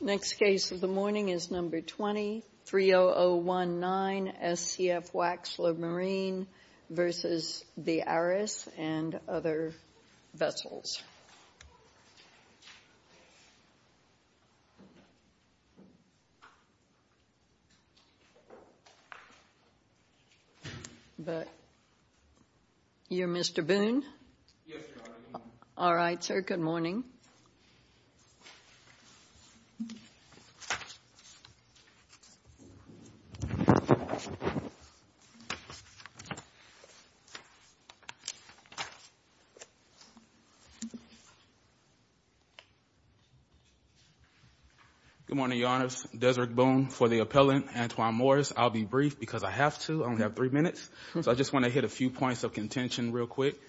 Next case of the morning is number 230019 SCF Waxler Marine v. The Aris and other vessels. You're Mr. Boone? Yes, ma'am. All right, sir. Good morning. Good morning, Your Honors. Deseret Boone for the appellant, Antoine Morris. I'll be brief because I have to. I only have three minutes. So I just want to hit a few points of contention real quick.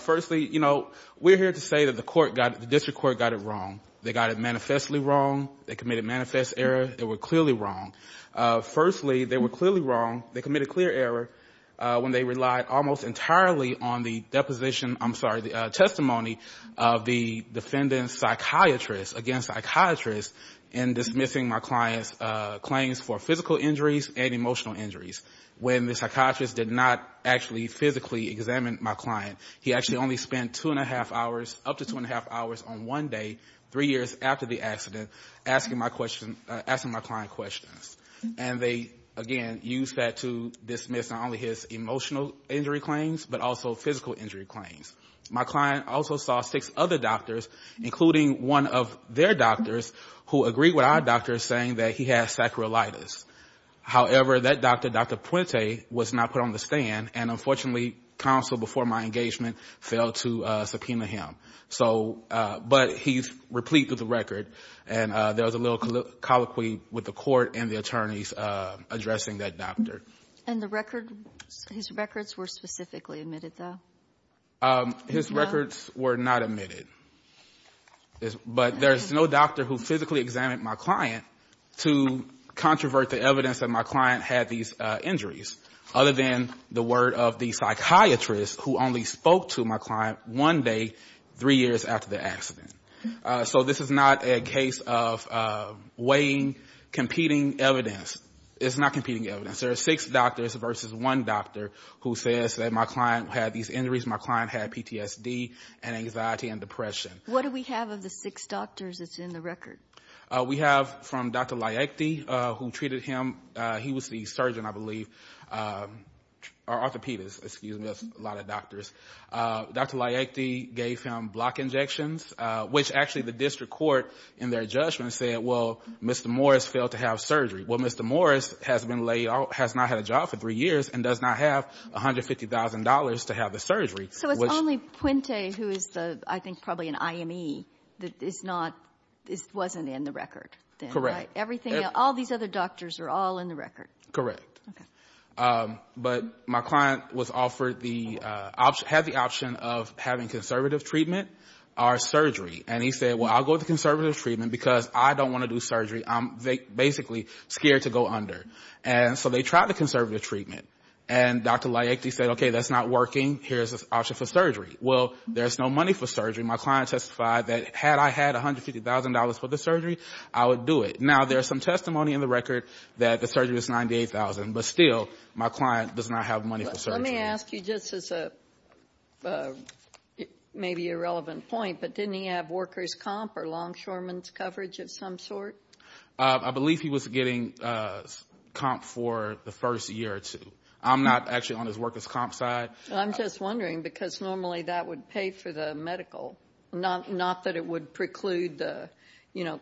Firstly, you know, we're here to say that the court got the district court got it wrong. They got it manifestly wrong. They committed manifest error. They were clearly wrong. Firstly, they were clearly wrong. They committed clear error when they relied almost entirely on the deposition, I'm sorry, the testimony of the defendant's psychiatrist against psychiatrist in dismissing my client's claims for physical injuries and my client. He actually only spent two and a half hours, up to two and a half hours on one day, three years after the accident, asking my client questions. And they, again, used that to dismiss not only his emotional injury claims but also physical injury claims. My client also saw six other doctors, including one of their doctors, who agreed with our doctor saying that he has sacroilitis. However, that doctor, Dr. Puente, was not put on the stand. And, unfortunately, counsel, before my engagement, failed to subpoena him. But he's replete with the record. And there was a little colloquy with the court and the attorneys addressing that doctor. And his records were specifically omitted, though? His records were not omitted. But there's no doctor who physically examined my client to controvert the evidence that my client had these injuries, other than the word of the psychiatrist who only spoke to my client one day, three years after the accident. So this is not a case of weighing competing evidence. It's not competing evidence. There are six doctors versus one doctor who says that my client had these injuries, my client had PTSD and anxiety and depression. What do we have of the six doctors that's in the record? We have, from Dr. Layekte, who treated him, he was the surgeon, I believe, or orthopedist, excuse me. That's a lot of doctors. Dr. Layekte gave him block injections, which actually the district court, in their judgment, said, well, Mr. Morris failed to have surgery. Well, Mr. Morris has not had a job for three years and does not have $150,000 to have the surgery. So it's only Puente, who is, I think, probably an IME, that wasn't in the record? Correct. All these other doctors are all in the record? Correct. Okay. But my client had the option of having conservative treatment or surgery. And he said, well, I'll go with the conservative treatment because I don't want to do surgery. I'm basically scared to go under. And so they tried the conservative treatment. And Dr. Layekte said, okay, that's not working. Here's an option for surgery. Well, there's no money for surgery. My client testified that had I had $150,000 for the surgery, I would do it. Now, there's some testimony in the record that the surgery was $98,000. But still, my client does not have money for surgery. Let me ask you, just as maybe a relevant point, but didn't he have worker's comp or longshoreman's coverage of some sort? I believe he was getting comp for the first year or two. I'm not actually on his worker's comp side. I'm just wondering because normally that would pay for the medical, not that it would preclude the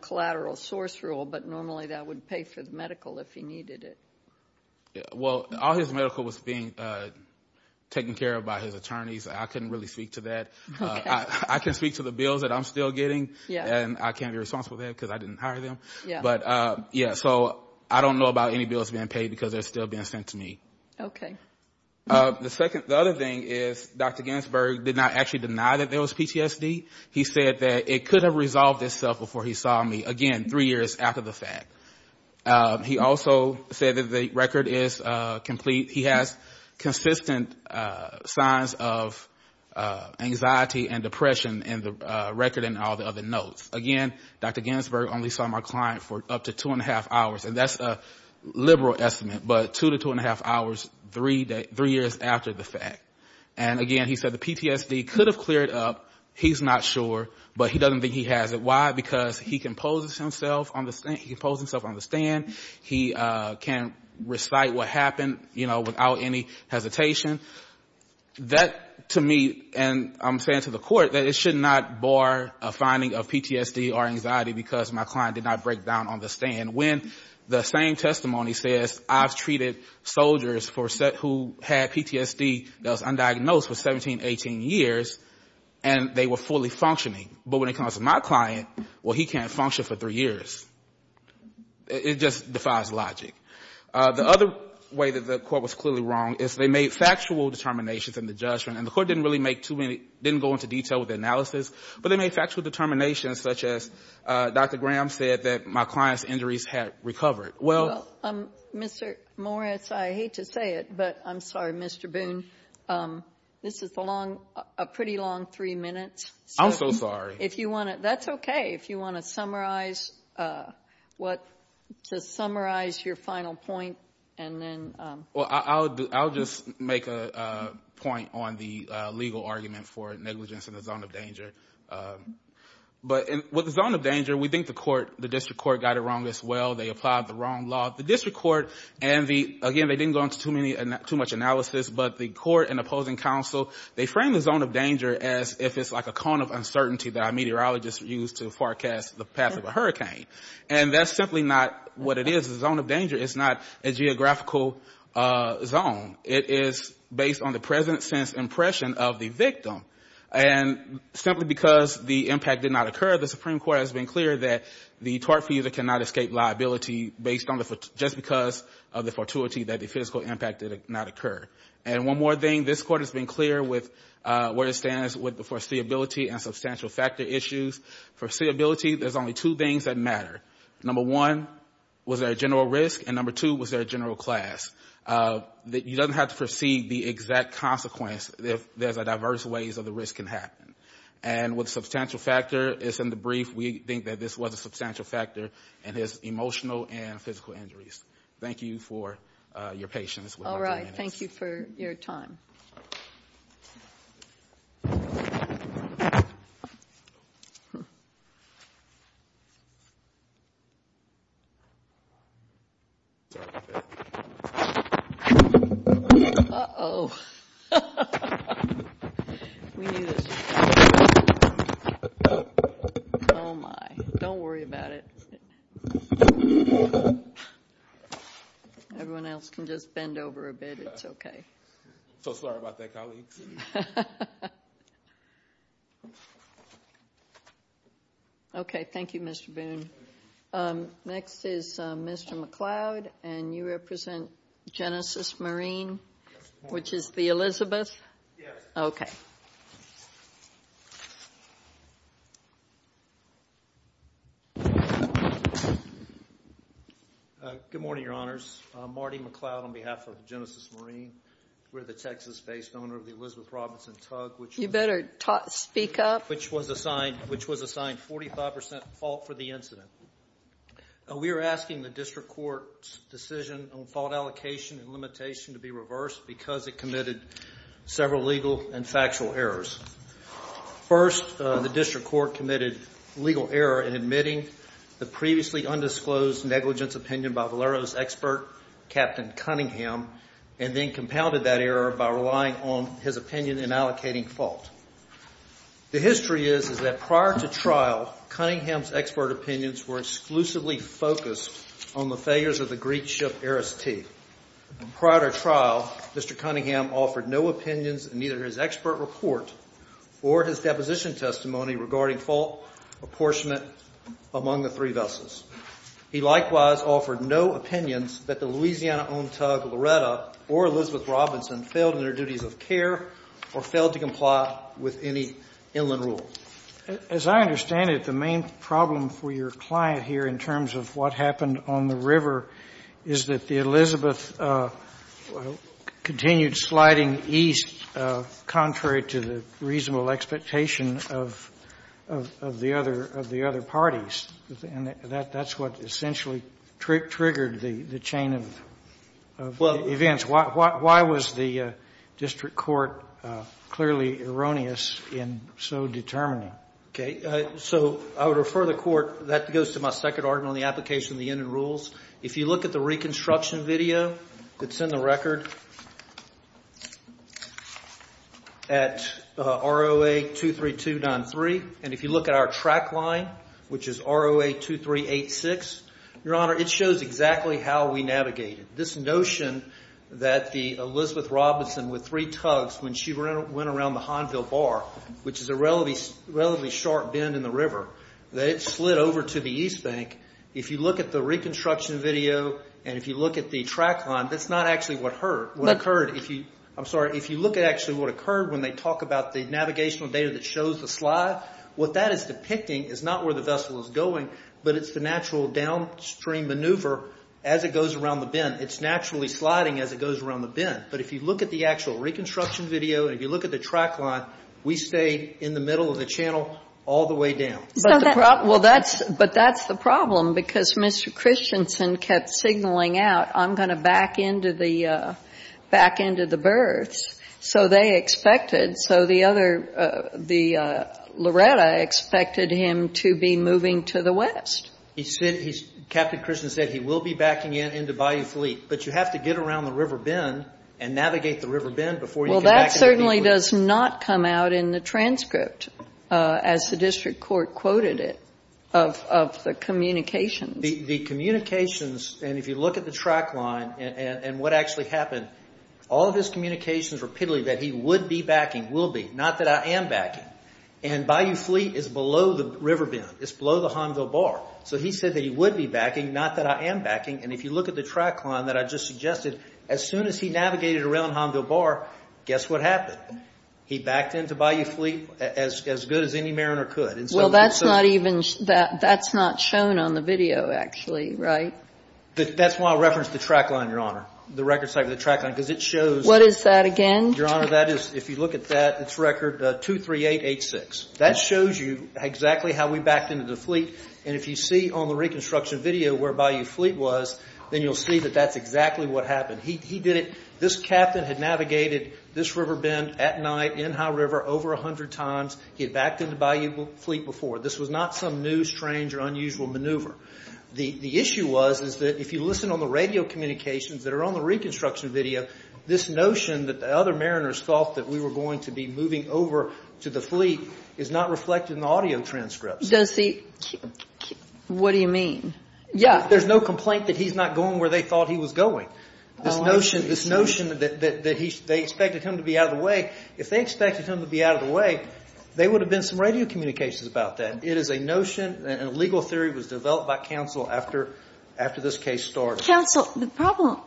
collateral source rule, but normally that would pay for the medical if he needed it. Well, all his medical was being taken care of by his attorneys. I couldn't really speak to that. I can speak to the bills that I'm still getting. And I can't be responsible for that because I didn't hire them. But, yeah, so I don't know about any bills being paid because they're still being sent to me. Okay. The other thing is Dr. Ginsburg did not actually deny that there was PTSD. He said that it could have resolved itself before he saw me, again, three years after the fact. He also said that the record is complete. He has consistent signs of anxiety and depression in the record and all the other notes. Again, Dr. Ginsburg only saw my client for up to two and a half hours, and that's a liberal estimate, but two to two and a half hours, three years after the fact. And, again, he said the PTSD could have cleared up. He's not sure, but he doesn't think he has it. Why? Because he composes himself on the stand. He can recite what happened, you know, without any hesitation. That, to me, and I'm saying to the court, that it should not bar a finding of PTSD or anxiety because my client did not break down on the stand when the same testimony says I've treated soldiers who had PTSD that was undiagnosed for 17, 18 years, and they were fully functioning. But when it comes to my client, well, he can't function for three years. It just defies logic. The other way that the court was clearly wrong is they made factual determinations in the judgment, and the court didn't really make too many, didn't go into detail with the analysis, but they made factual determinations such as Dr. Graham said that my client's injuries had recovered. Well, Mr. Morris, I hate to say it, but I'm sorry, Mr. Boone, this is a pretty long three minutes. I'm so sorry. If you want to, that's okay, if you want to summarize what, to summarize your final point and then. Well, I'll just make a point on the legal argument for negligence in the zone of danger. But with the zone of danger, we think the court, the district court got it wrong as well. They applied the wrong law. The district court and the, again, they didn't go into too much analysis, but the court and opposing counsel, they framed the zone of danger as if it's like a cone of uncertainty that a meteorologist used to forecast the path of a hurricane. And that's simply not what it is. The zone of danger is not a geographical zone. It is based on the present sense impression of the victim. And simply because the impact did not occur, the Supreme Court has been clear that the tort fugitive cannot escape liability based on the, just because of the fortuity that the physical impact did not occur. And one more thing, this Court has been clear with where it stands with the foreseeability and substantial factor issues. Foreseeability, there's only two things that matter. Number one, was there a general risk? And number two, was there a general class? You don't have to foresee the exact consequence if there's a diverse ways that the risk can happen. And with substantial factor, it's in the brief. We think that this was a substantial factor in his emotional and physical injuries. Thank you for your patience with my comments. Thank you for your time. Uh-oh. Oh, my. Don't worry about it. Everyone else can just bend over a bit. It's okay. So sorry about that, colleagues. Okay. Thank you, Mr. Boone. Next is Mr. McLeod, and you represent Genesis Marine, which is the Elizabeth? Yes. Okay. Good morning, Your Honors. I'm Marty McLeod on behalf of Genesis Marine. We're the Texas-based owner of the Elizabeth Robinson Tug, which was assigned 45% fault for the incident. We are asking the District Court's decision on fault allocation and limitation to be reversed because it committed several legal and factual errors. First, the District Court committed legal error in admitting the previously undisclosed negligence opinion by Valero's expert, Captain Cunningham, and then compounded that error by relying on his opinion in allocating fault. The history is that prior to trial, Cunningham's expert opinions were exclusively focused on the failures of the Greek ship Aris T. Prior to trial, Mr. Cunningham offered no opinions in either his expert report or his deposition testimony regarding fault apportionment among the three vessels. He likewise offered no opinions that the Louisiana-owned tug Loretta or Elizabeth Robinson failed in their duties of care or failed to comply with any inland rules. As I understand it, the main problem for your client here in terms of what happened on the river is that the Elizabeth continued sliding east, contrary to the reasonable expectation of the other parties. And that's what essentially triggered the chain of events. Judge, why was the District Court clearly erroneous in so determining? Okay, so I would refer the Court, that goes to my second argument on the application of the inland rules, if you look at the reconstruction video that's in the record at ROA 23293, and if you look at our track line, which is ROA 2386, Your Honor, it shows exactly how we navigated. This notion that the Elizabeth Robinson with three tugs, when she went around the Honville Bar, which is a relatively sharp bend in the river, that it slid over to the east bank, if you look at the reconstruction video and if you look at the track line, that's not actually what occurred. If you look at actually what occurred when they talk about the navigational data that shows the slide, what that is depicting is not where the vessel is going, but it's the natural downstream maneuver as it goes around the bend. It's naturally sliding as it goes around the bend, but if you look at the actual reconstruction video and if you look at the track line, we stay in the middle of the channel all the way down. But that's the problem because Mr. Christensen kept signaling out, I'm going to back into the berths. So they expected, so the Loretta expected him to be moving to the west. Captain Christensen said he will be backing in into Bayou Fleet, but you have to get around the river bend and navigate the river bend before you can back into Bayou Fleet. Well, that certainly does not come out in the transcript, as the district court quoted it, of the communications. The communications, and if you look at the track line and what actually happened, all of his communications repeatedly that he would be backing, will be, not that I am backing, and Bayou Fleet is below the river bend. It's below the Hanville Bar. So he said that he would be backing, not that I am backing, and if you look at the track line that I just suggested, as soon as he navigated around Hanville Bar, guess what happened? He backed into Bayou Fleet as good as any mariner could. Well, that's not even, that's not shown on the video, actually, right? That's why I referenced the track line, Your Honor, the record site of the track line, because it shows. What is that again? Your Honor, that is, if you look at that, it's record 23886. That shows you exactly how we backed into the fleet, and if you see on the reconstruction video where Bayou Fleet was, then you'll see that that's exactly what happened. He did it, this captain had navigated this river bend at night in High River over 100 times. He had backed into Bayou Fleet before. This was not some new, strange, or unusual maneuver. The issue was is that if you listen on the radio communications that are on the reconstruction video, this notion that the other mariners thought that we were going to be moving over to the fleet is not reflected in the audio transcripts. Does the, what do you mean? Yeah, there's no complaint that he's not going where they thought he was going. This notion, this notion that they expected him to be out of the way, if they expected him to be out of the way, there would have been some radio communications about that. It is a notion, and a legal theory was developed by counsel after this case started. But counsel, the problem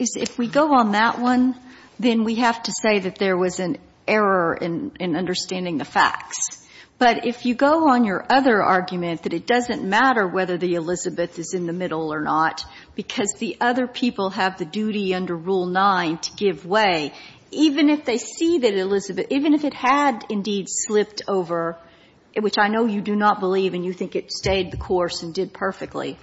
is if we go on that one, then we have to say that there was an error in understanding the facts. But if you go on your other argument that it doesn't matter whether the Elizabeth is in the middle or not because the other people have the duty under Rule 9 to give way, even if they see that Elizabeth, even if it had indeed slipped over, which I know you do not believe and you think it stayed the course and did perfectly,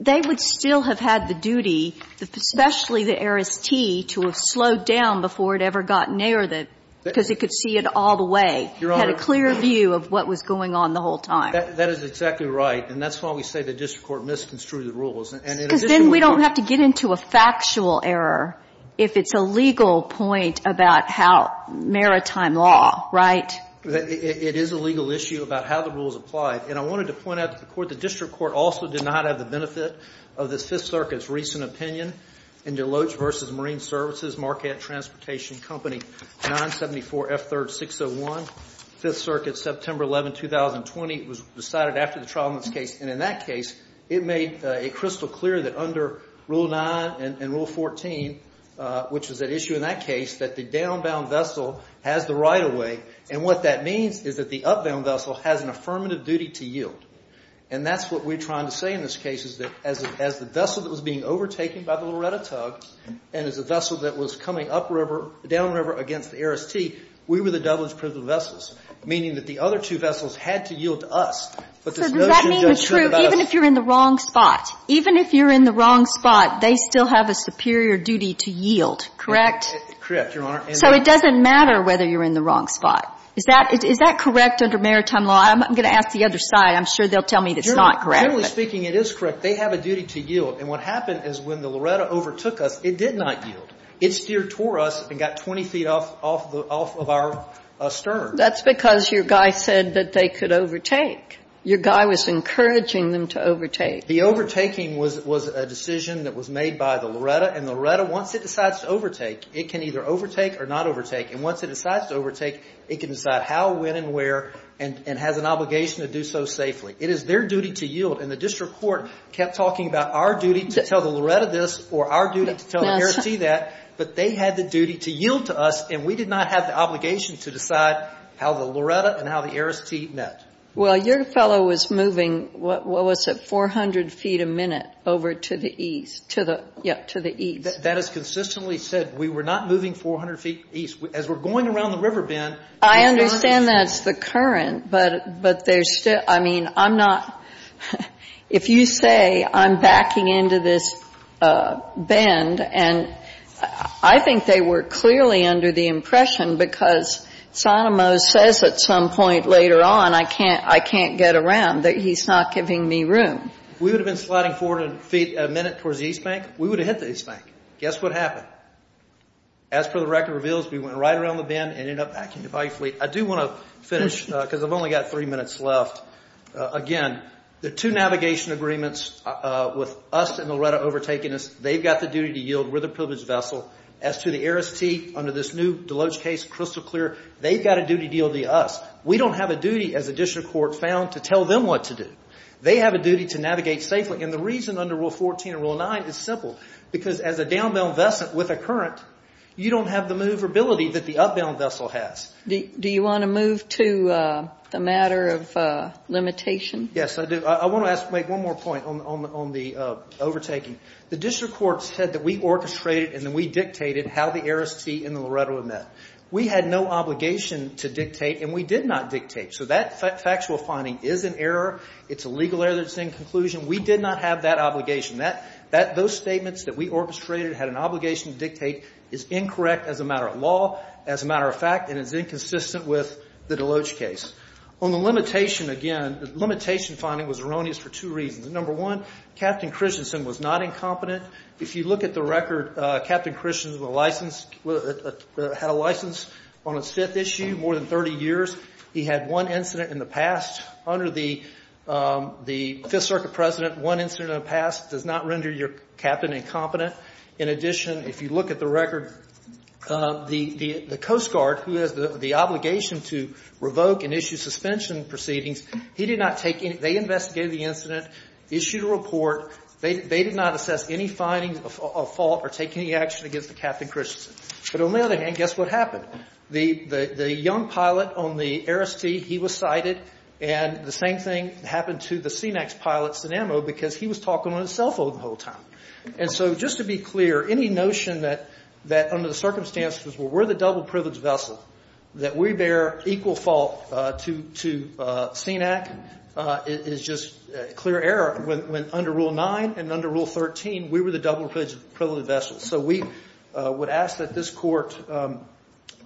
they would still have had the duty, especially the heiress T, to have slowed down before it ever got near the, because it could see it all the way, had a clear view of what was going on the whole time. That is exactly right. And that's why we say the district court misconstrued the rules. Because then we don't have to get into a factual error if it's a legal point about how maritime law, right? It is a legal issue about how the rules apply. And I wanted to point out to the court, the district court also did not have the benefit of this Fifth Circuit's recent opinion in DeLoach v. Marine Services, Marquette Transportation Company, 974F3-601, Fifth Circuit, September 11, 2020. It was decided after the trial in this case. And in that case, it made it crystal clear that under Rule 9 and Rule 14, which was at issue in that case, that the downbound vessel has the right of way. And what that means is that the upbound vessel has an affirmative duty to yield. And that's what we're trying to say in this case, is that as the vessel that was being overtaken by the Loretta tug and as a vessel that was coming upriver, downriver against the Aristi, we were the double-edged prism vessels, meaning that the other two vessels had to yield to us. But there's no true judgment about us. So does that mean the truth, even if you're in the wrong spot? Even if you're in the wrong spot, they still have a superior duty to yield, correct? Correct, Your Honor. So it doesn't matter whether you're in the wrong spot. Is that correct under Maritime law? I'm going to ask the other side. I'm sure they'll tell me it's not correct. Generally speaking, it is correct. They have a duty to yield. And what happened is when the Loretta overtook us, it did not yield. It steered toward us and got 20 feet off of our stern. That's because your guy said that they could overtake. Your guy was encouraging them to overtake. The overtaking was a decision that was made by the Loretta. And the Loretta, once it decides to overtake, it can either overtake or not overtake. And once it decides to overtake, it can decide how, when, and where, and has an obligation to do so safely. It is their duty to yield. And the district court kept talking about our duty to tell the Loretta this or our duty to tell the ARIS-T that. But they had the duty to yield to us, and we did not have the obligation to decide how the Loretta and how the ARIS-T met. Well, your fellow was moving, what was it, 400 feet a minute over to the east, to the, yeah, to the east. That is consistently said. We were not moving 400 feet east. As we're going around the river bend. I understand that's the current, but there's still, I mean, I'm not, if you say I'm backing into this bend, and I think they were clearly under the impression, because Sotomayor says at some point later on, I can't, I can't get around, that he's not giving me room. If we would have been sliding 400 feet a minute towards the east bank, we would have hit the east bank. Guess what happened? As per the record reveals, we went right around the bend and ended up backing into Pike Fleet. I do want to finish, because I've only got three minutes left. Again, the two navigation agreements with us and Loretta overtaking us, they've got the duty to yield, we're the privileged vessel. As to the ARIS-T, under this new Deloge case, crystal clear, they've got a duty to yield to us. We don't have a duty as a district court found to tell them what to do. They have a duty to navigate safely, and the reason under Rule 14 and Rule 9 is simple, because as a downbound vessel with a current, you don't have the maneuverability that the upbound vessel has. Do you want to move to the matter of limitation? Yes, I do. I want to make one more point on the overtaking. The district court said that we orchestrated and that we dictated how the ARIS-T and the Loretta were met. We had no obligation to dictate, and we did not dictate. So that factual finding is an error. It's a legal error that's in conclusion. We did not have that obligation. Those statements that we orchestrated had an obligation to dictate is incorrect as a matter of law, as a matter of fact, and is inconsistent with the Deloge case. On the limitation, again, the limitation finding was erroneous for two reasons. Number one, Captain Christensen was not incompetent. If you look at the record, Captain Christensen had a license on his fifth issue, more than 30 years. He had one incident in the past. Under the Fifth Circuit precedent, one incident in the past does not render your captain incompetent. In addition, if you look at the record, the Coast Guard, who has the obligation to revoke and issue suspension proceedings, he did not take any – they investigated the incident, issued a report. They did not assess any findings of fault or take any action against Captain Christensen. But on the other hand, guess what happened? The young pilot on the ARIS-T, he was cited, and the same thing happened to the C-MAX pilot, Sinamo, because he was talking on his cell phone the whole time. And so just to be clear, any notion that under the circumstances, well, we're the double-privileged vessel, that we bear equal fault to CNAC is just clear error. When under Rule 9 and under Rule 13, we were the double-privileged vessel. So we would ask that this Court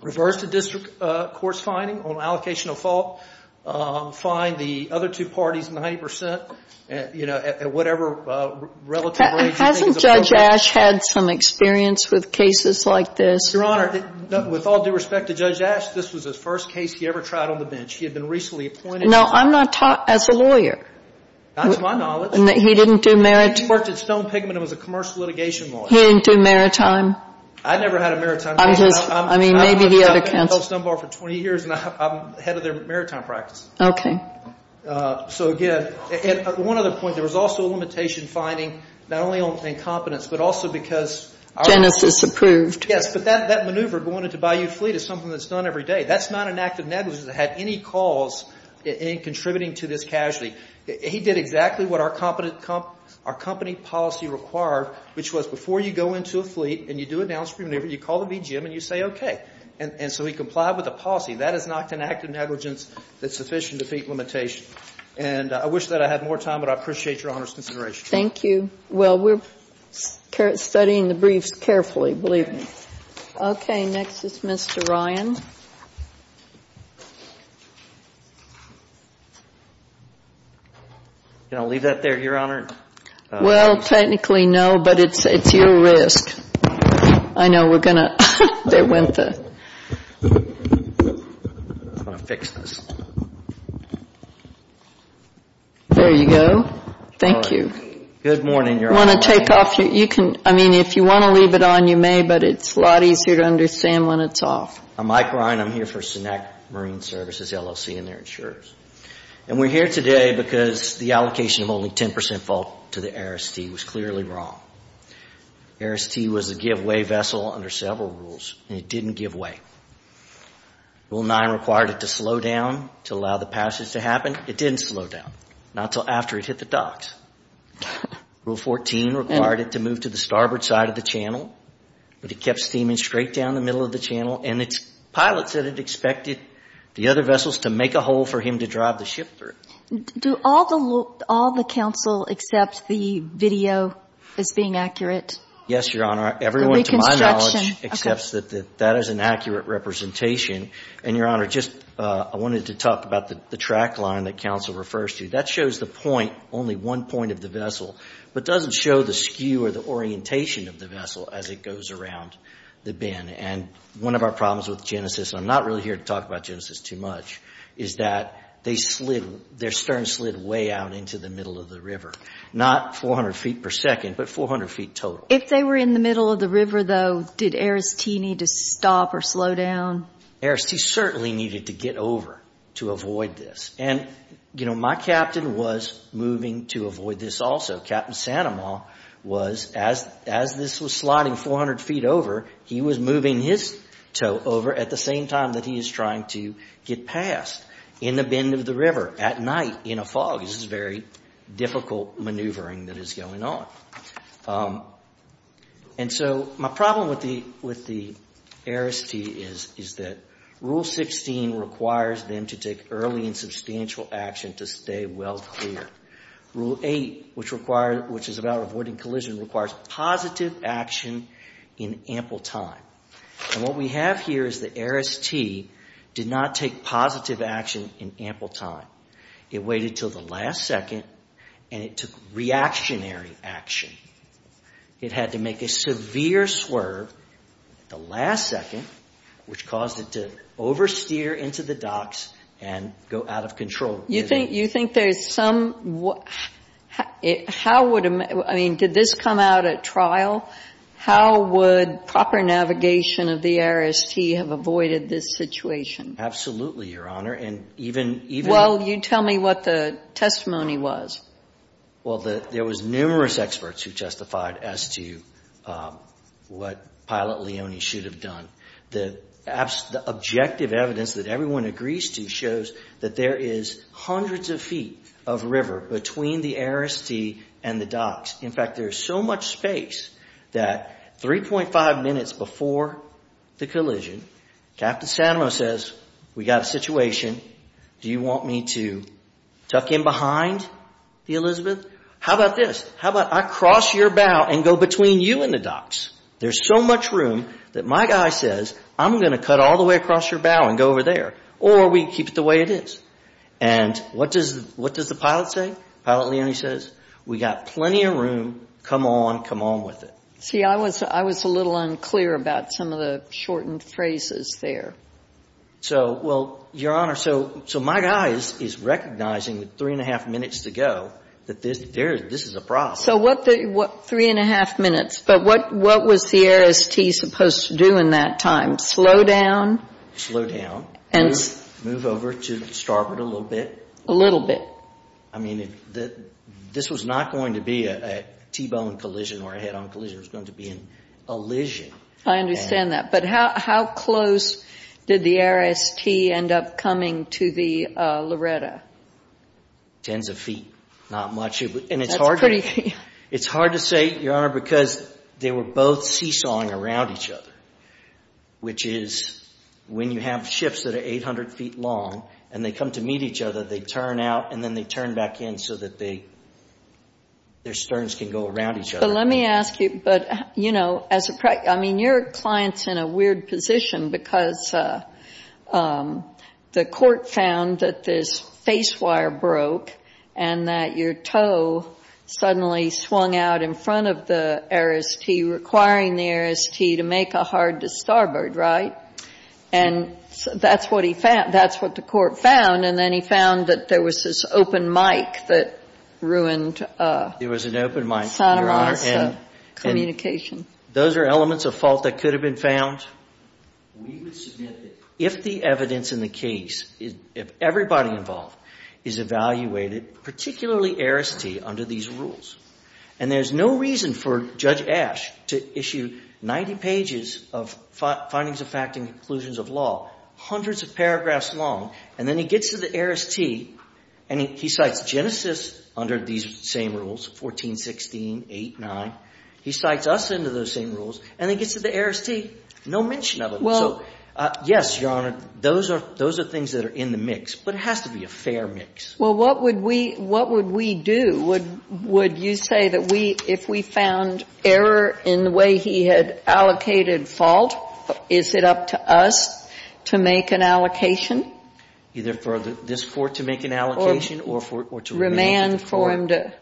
reverse the district court's finding on allocation of fault, fine the other two parties 90 percent, you know, at whatever relative rate you think is appropriate. Hasn't Judge Ash had some experience with cases like this? Your Honor, with all due respect to Judge Ash, this was the first case he ever tried on the bench. He had been recently appointed. No, I'm not taught as a lawyer. That's my knowledge. He didn't do maritime. He worked at Stone Pigment and was a commercial litigation lawyer. He didn't do maritime. I never had a maritime. I mean, maybe he had a counsel. I've been with Stone Bar for 20 years, and I'm head of their maritime practice. Okay. So, again, one other point. There was also a limitation finding not only on incompetence, but also because our – Genesis approved. Yes, but that maneuver going into Bayou Fleet is something that's done every day. That's not an act of negligence that had any cause in contributing to this casualty. He did exactly what our company policy required, which was before you go into a fleet and you do a downstream maneuver, you call the BGM and you say, okay. And so he complied with the policy. That is not an act of negligence that's sufficient to defeat limitation. And I wish that I had more time, but I appreciate Your Honor's consideration. Thank you. Well, we're studying the briefs carefully, believe me. Okay. Next is Mr. Ryan. You going to leave that there, Your Honor? Well, technically no, but it's your risk. I know we're going to – there went the – I'm going to fix this. There you go. Thank you. Good morning, Your Honor. If you want to take off your – you can – I mean, if you want to leave it on, you may, but it's a lot easier to understand when it's off. I'm Mike Ryan. I'm here for Sinec Marine Services, LLC, and their insurers. And we're here today because the allocation of only 10 percent fault to the ARIS-T was clearly wrong. ARIS-T was a giveaway vessel under several rules, and it didn't give away. Rule 9 required it to slow down to allow the passage to happen. It didn't slow down, not until after it hit the docks. Rule 14 required it to move to the starboard side of the channel, but it kept steaming straight down the middle of the channel, and its pilot said it expected the other vessels to make a hole for him to drive the ship through. Do all the – all the counsel accept the video as being accurate? Yes, Your Honor. Everyone, to my knowledge, accepts that that is an accurate representation. And, Your Honor, just – I wanted to talk about the track line that counsel refers to. That shows the point, only one point of the vessel, but doesn't show the skew or the orientation of the vessel as it goes around the bend. And one of our problems with Genesis – and I'm not really here to talk about Genesis too much – is that they slid – their stern slid way out into the middle of the river, not 400 feet per second, but 400 feet total. If they were in the middle of the river, though, did ARIS-T need to stop or slow down? ARIS-T certainly needed to get over to avoid this. And, you know, my captain was moving to avoid this also. Captain Sanamaw was – as this was sliding 400 feet over, he was moving his tow over at the same time that he is trying to get past in the bend of the river at night in a fog. This is very difficult maneuvering that is going on. And so my problem with the ARIS-T is that Rule 16 requires them to take early and substantial action to stay well clear. Rule 8, which is about avoiding collision, requires positive action in ample time. And what we have here is that ARIS-T did not take positive action in ample time. It waited until the last second, and it took reactionary action. It had to make a severe swerve at the last second, which caused it to oversteer into the docks and go out of control. You think there is some – how would – I mean, did this come out at trial? How would proper navigation of the ARIS-T have avoided this situation? Absolutely, Your Honor. And even – Well, you tell me what the testimony was. Well, there was numerous experts who testified as to what Pilot Leone should have done. The objective evidence that everyone agrees to shows that there is hundreds of feet of river between the ARIS-T and the docks. In fact, there is so much space that 3.5 minutes before the collision, Captain Sano says, we got a situation. Do you want me to tuck in behind the Elizabeth? How about this? How about I cross your bow and go between you and the docks? There is so much room that my guy says, I'm going to cut all the way across your bow and go over there. Or we keep it the way it is. And what does the pilot say? Pilot Leone says, we got plenty of room. Come on. Come on with it. See, I was a little unclear about some of the shortened phrases there. So, well, Your Honor, so my guy is recognizing with 3.5 minutes to go that this is a problem. So 3.5 minutes. But what was the ARIS-T supposed to do in that time? Slow down? Slow down. Move over to starboard a little bit. A little bit. I mean, this was not going to be a T-bone collision or a head-on collision. It was going to be an elision. I understand that. But how close did the ARIS-T end up coming to the Loretta? Tens of feet. Not much. And it's hard to say, Your Honor, because they were both seesawing around each other, which is when you have ships that are 800 feet long and they come to meet each other, they turn out and then they turn back in so that their sterns can go around each other. But let me ask you, but, you know, I mean, your client's in a weird position because the court found that this face wire broke and that your toe suddenly swung out in front of the ARIS-T, requiring the ARIS-T to make a hard to starboard, right? And that's what the court found. And then he found that there was this open mic that ruined Santa Monica communication. Those are elements of fault that could have been found. We would submit that if the evidence in the case, if everybody involved is evaluated, particularly ARIS-T under these rules, and there's no reason for Judge Ash to issue 90 pages of findings of fact and conclusions of law, hundreds of paragraphs long, and then he gets to the ARIS-T and he cites Genesis under these same rules, 1416, 8, 9. He cites us under those same rules and then gets to the ARIS-T. No mention of it. So, yes, Your Honor, those are things that are in the mix, but it has to be a fair mix. Well, what would we do? Would you say that if we found error in the way he had allocated fault, is it up to us to make an allocation? Either for this court to make an allocation or to remain informed.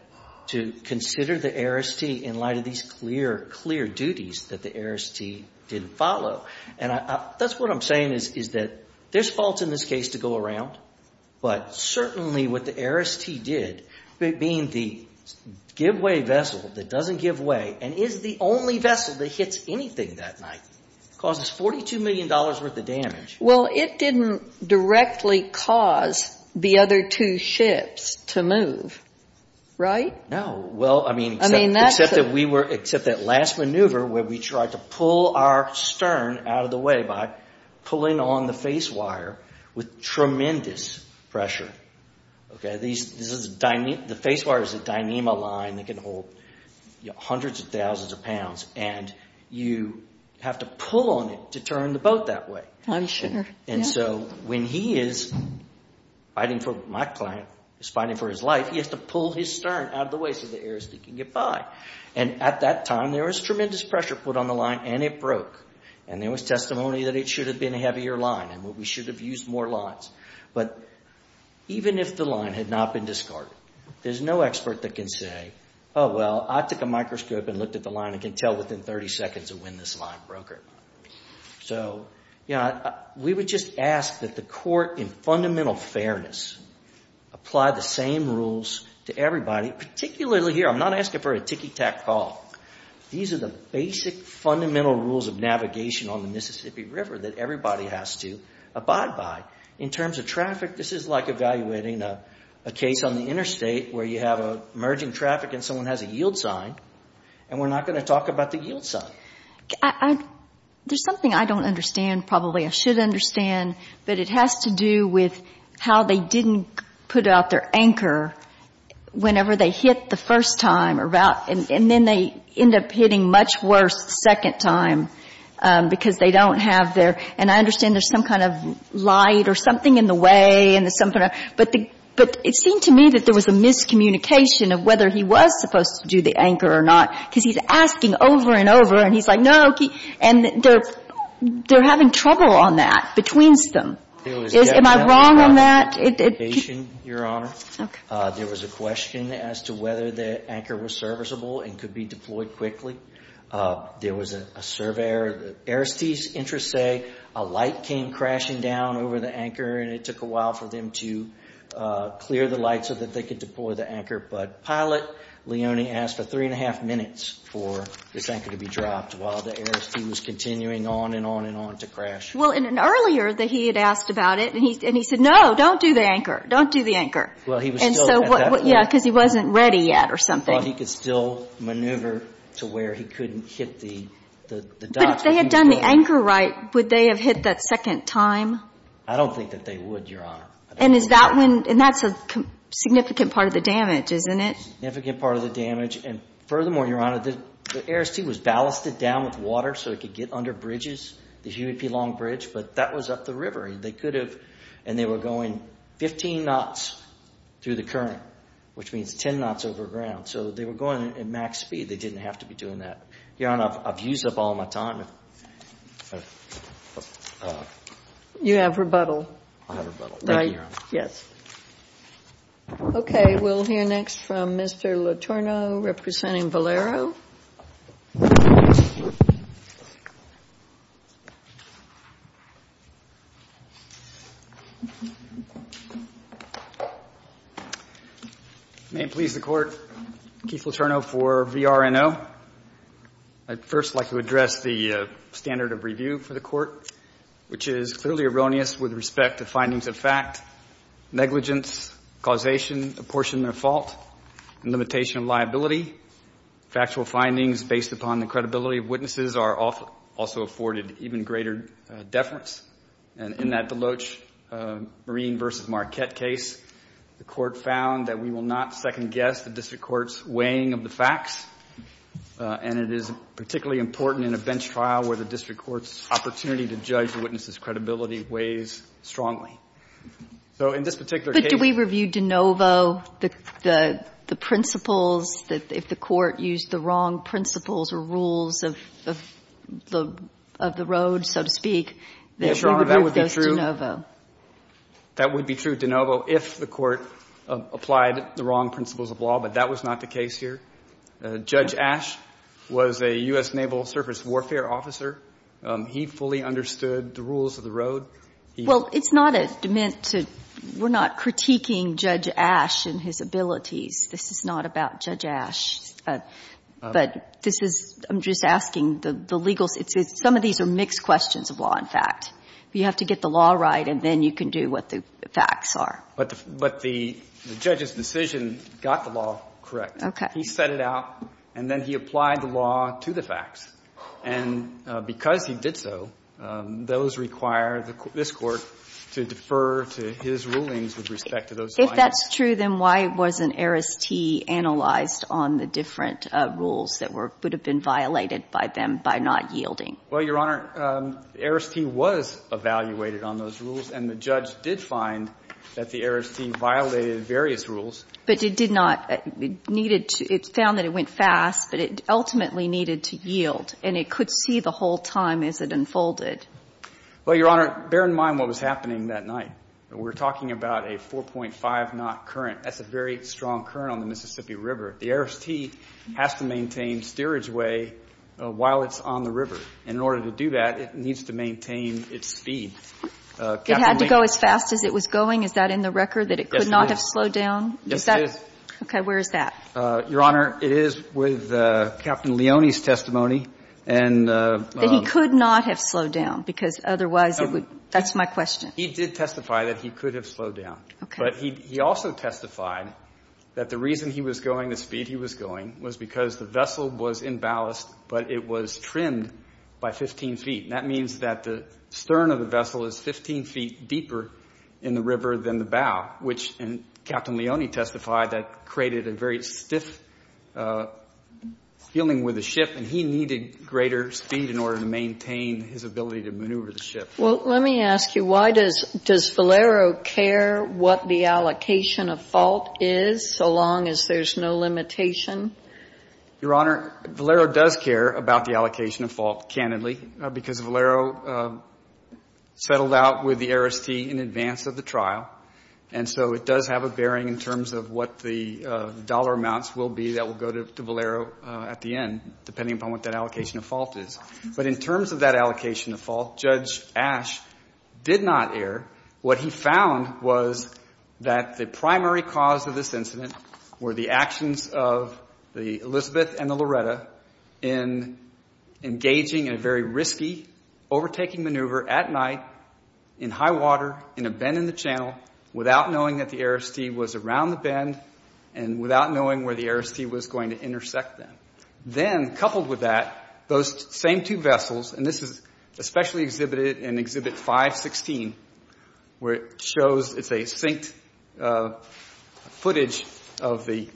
To consider the ARIS-T in light of these clear, clear duties that the ARIS-T didn't follow. And that's what I'm saying is that there's faults in this case to go around, but certainly what the ARIS-T did, being the give-way vessel that doesn't give way and is the only vessel that hits anything that night, causes $42 million worth of damage. Well, it didn't directly cause the other two ships to move, right? No. Well, I mean, except that last maneuver where we tried to pull our stern out of the way by pulling on the face wire with tremendous pressure. The face wire is a Dyneema line that can hold hundreds of thousands of pounds, and you have to pull on it to turn the boat that way. I'm sure. And so when he is fighting for, my client is fighting for his life, he has to pull his stern out of the way so the ARIS-T can get by. And at that time, there was tremendous pressure put on the line and it broke. And there was testimony that it should have been a heavier line and we should have used more lines. But even if the line had not been discarded, there's no expert that can say, oh, well, I took a microscope and looked at the line and can tell within 30 seconds of when this line broke or not. So we would just ask that the court, in fundamental fairness, apply the same rules to everybody, particularly here. I'm not asking for a ticky-tack call. These are the basic fundamental rules of navigation on the Mississippi River that everybody has to abide by. In terms of traffic, this is like evaluating a case on the interstate where you have emerging traffic and someone has a yield sign, and we're not going to talk about the yield sign. There's something I don't understand, probably I should understand, but it has to do with how they didn't put out their anchor whenever they hit the first time, and then they end up hitting much worse the second time because they don't have their – and I understand there's some kind of light or something in the way and there's some kind of – but it seemed to me that there was a miscommunication of whether he was supposed to do the anchor or not because he's asking over and over, and he's like, no. And they're having trouble on that between them. Am I wrong on that? It was definitely not a miscommunication, Your Honor. Okay. There was a question as to whether the anchor was serviceable and could be deployed quickly. There was a survey error. The aristees' interests say a light came crashing down over the anchor and it took a while for them to clear the light so that they could deploy the anchor. But Pilot Leone asked for three and a half minutes for this anchor to be dropped while the aristee was continuing on and on and on to crash. Well, in an earlier – he had asked about it, and he said, no, don't do the anchor. Don't do the anchor. Well, he was still at that point. Yeah, because he wasn't ready yet or something. Well, he could still maneuver to where he couldn't hit the dot. But if they had done the anchor right, would they have hit that second time? I don't think that they would, Your Honor. And is that when – and that's a significant part of the damage, isn't it? Significant part of the damage. And furthermore, Your Honor, the aristee was ballasted down with water so it could get under bridges, the Huey P. Long Bridge, but that was up the river. They could have – and they were going 15 knots through the current, which means 10 knots over ground. So they were going at max speed. They didn't have to be doing that. Your Honor, I've used up all my time. You have rebuttal. I have rebuttal. Thank you, Your Honor. Yes. Okay. We'll hear next from Mr. Letourneau, representing Valero. May it please the Court, Keith Letourneau for VRNO. I'd first like to address the standard of review for the Court, which is clearly erroneous with respect to findings of fact. Negligence, causation, apportionment of fault, and limitation of liability. Factual findings based upon the credibility of witnesses are also afforded even greater deference. And in that Deloach-Marine v. Marquette case, the Court found that we will not second-guess the district court's weighing of the facts, and it is particularly important in a bench trial where the district court's opportunity to judge the witness's credibility weighs strongly. So in this particular case— But do we review de novo the principles, if the Court used the wrong principles or rules of the road, so to speak? Yes, Your Honor, that would be true. That would be true de novo if the Court applied the wrong principles of law, but that was not the case here. Judge Asch was a U.S. Naval surface warfare officer. He fully understood the rules of the road. Well, it's not a dement to — we're not critiquing Judge Asch and his abilities. This is not about Judge Asch. But this is — I'm just asking the legal — some of these are mixed questions of law and fact. You have to get the law right, and then you can do what the facts are. But the judge's decision got the law correct. Okay. He set it out, and then he applied the law to the facts. And because he did so, those require this Court to defer to his rulings with respect to those findings. If that's true, then why wasn't Aris T. analyzed on the different rules that were — would have been violated by them by not yielding? Well, Your Honor, Aris T. was evaluated on those rules, and the judge did find that the Aris T. violated various rules. But it did not. It needed to — it found that it went fast, but it ultimately needed to yield. And it could see the whole time as it unfolded. Well, Your Honor, bear in mind what was happening that night. We're talking about a 4.5-knot current. That's a very strong current on the Mississippi River. The Aris T. has to maintain steerage way while it's on the river. And in order to do that, it needs to maintain its speed. It had to go as fast as it was going? Is that in the record, that it could not have slowed down? Yes, it is. Okay. Where is that? Your Honor, it is with Captain Leone's testimony. And — That he could not have slowed down, because otherwise it would — that's my question. He did testify that he could have slowed down. Okay. But he also testified that the reason he was going the speed he was going was because the vessel was in ballast, but it was trimmed by 15 feet. And that means that the stern of the vessel is 15 feet deeper in the river than the ship. And he testified that created a very stiff feeling with the ship, and he needed greater speed in order to maintain his ability to maneuver the ship. Well, let me ask you, why does Valero care what the allocation of fault is, so long as there's no limitation? Your Honor, Valero does care about the allocation of fault, candidly, because Valero settled out with the Aris T. in advance of the trial. And so it does have a bearing in terms of what the dollar amounts will be that will go to Valero at the end, depending upon what that allocation of fault is. But in terms of that allocation of fault, Judge Ash did not err. What he found was that the primary cause of this incident were the actions of the Elizabeth and the Loretta in engaging in a very risky, overtaking maneuver at night in high water, in a bend in the channel, without knowing that the Aris T. was around the bend, and without knowing where the Aris T. was going to intersect them. Then, coupled with that, those same two vessels, and this is especially exhibited in Exhibit 516, where it shows it's a synced footage of the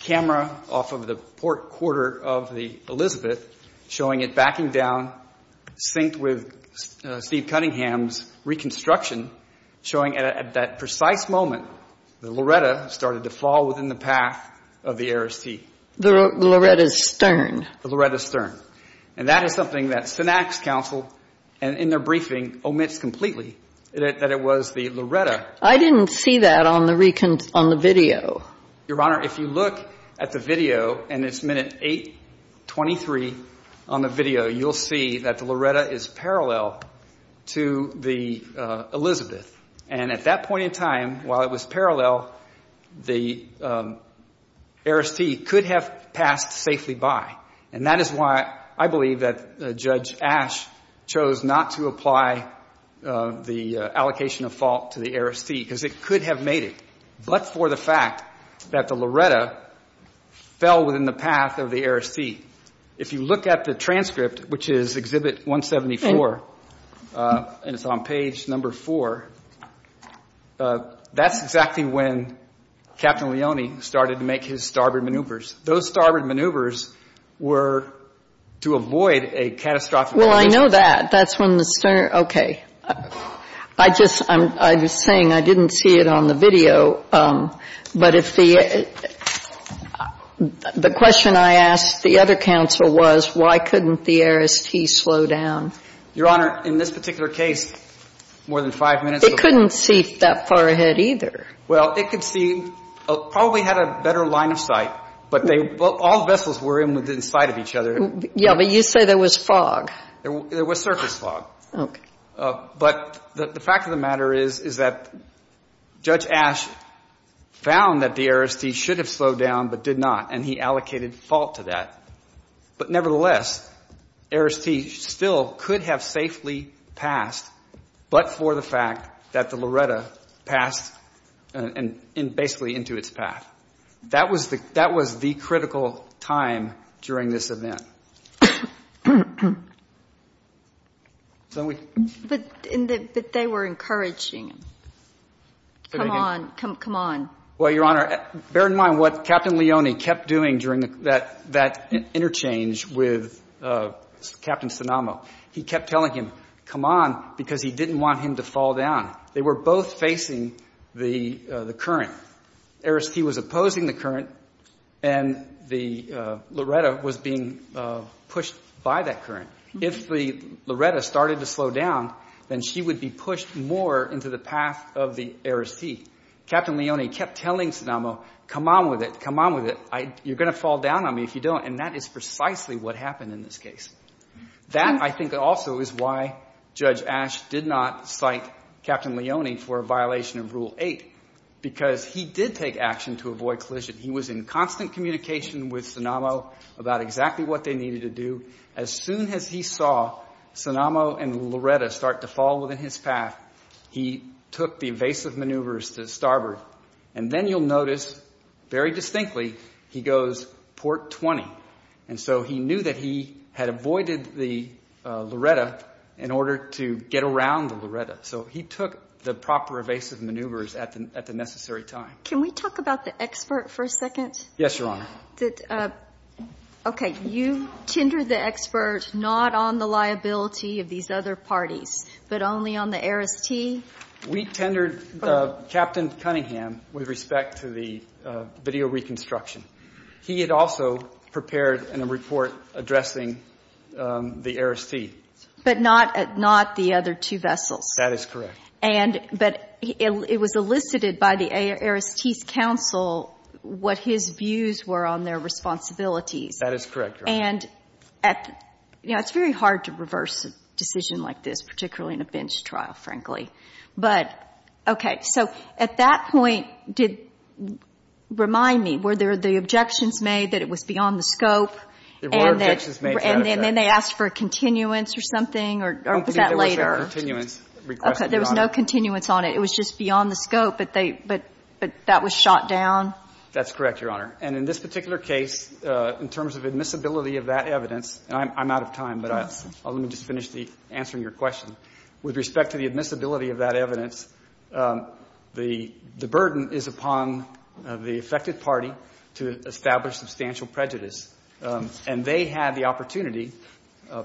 camera off of the port of the Elizabeth, showing it backing down, synced with Steve Cunningham's reconstruction, showing at that precise moment the Loretta started to fall within the path of the Aris T. The Loretta's stern. The Loretta's stern. And that is something that Synax counsel, in their briefing, omits completely, that it was the Loretta. I didn't see that on the video. Your Honor, if you look at the video, and it's minute 823 on the video, you'll see that the Loretta is parallel to the Elizabeth. And at that point in time, while it was parallel, the Aris T. could have passed safely by. And that is why I believe that Judge Ash chose not to apply the allocation of fault to the Aris T. Because it could have made it. But for the fact that the Loretta fell within the path of the Aris T. If you look at the transcript, which is Exhibit 174, and it's on page number 4, that's exactly when Captain Leone started to make his starboard maneuvers. Those starboard maneuvers were to avoid a catastrophic collision. Well, I know that. That's when the stern. Okay. I just, I'm saying I didn't see it on the video. But if the, the question I asked the other counsel was why couldn't the Aris T. slow down? Your Honor, in this particular case, more than five minutes. It couldn't see that far ahead either. Well, it could see, probably had a better line of sight. But they, all the vessels were within sight of each other. Yeah, but you say there was fog. There was surface fog. Okay. But the fact of the matter is, is that Judge Ash found that the Aris T. should have slowed down, but did not. And he allocated fault to that. But nevertheless, Aris T. still could have safely passed, but for the fact that the Loretta passed basically into its path. That was the critical time during this event. But they were encouraging him. Come on. Come on. Well, Your Honor, bear in mind what Captain Leone kept doing during that, that interchange with Captain Sinamo. He kept telling him, come on, because he didn't want him to fall down. They were both facing the, the current. Aris T. was opposing the current, and the Loretta was being, pushed by that current. If the Loretta started to slow down, then she would be pushed more into the path of the Aris T. Captain Leone kept telling Sinamo, come on with it. Come on with it. You're going to fall down on me if you don't. And that is precisely what happened in this case. That, I think, also is why Judge Ash did not cite Captain Leone for a violation of Rule 8, because he did take action to avoid collision. He was in constant communication with Sinamo about exactly what they needed to do. As soon as he saw Sinamo and Loretta start to fall within his path, he took the evasive maneuvers to starboard. And then you'll notice, very distinctly, he goes port 20. And so he knew that he had avoided the Loretta in order to get around the Loretta. So he took the proper evasive maneuvers at the necessary time. Can we talk about the expert for a second? Yes, Your Honor. Okay. You tendered the expert not on the liability of these other parties, but only on the Aris T? We tendered Captain Cunningham with respect to the video reconstruction. He had also prepared a report addressing the Aris T. But not the other two vessels. That is correct. But it was elicited by the Aris T's counsel what his views were on their responsibilities. That is correct, Your Honor. And, you know, it's very hard to reverse a decision like this, particularly in a bench trial, frankly. But, okay. So at that point, remind me, were there the objections made that it was beyond the scope? There were objections made to that effect. And then they asked for a continuance or something? Or was that later? There was no continuance on it. It was just beyond the scope. But that was shot down? That's correct, Your Honor. And in this particular case, in terms of admissibility of that evidence, and I'm out of time, but let me just finish answering your question. With respect to the admissibility of that evidence, the burden is upon the affected party to establish substantial prejudice. And they had the opportunity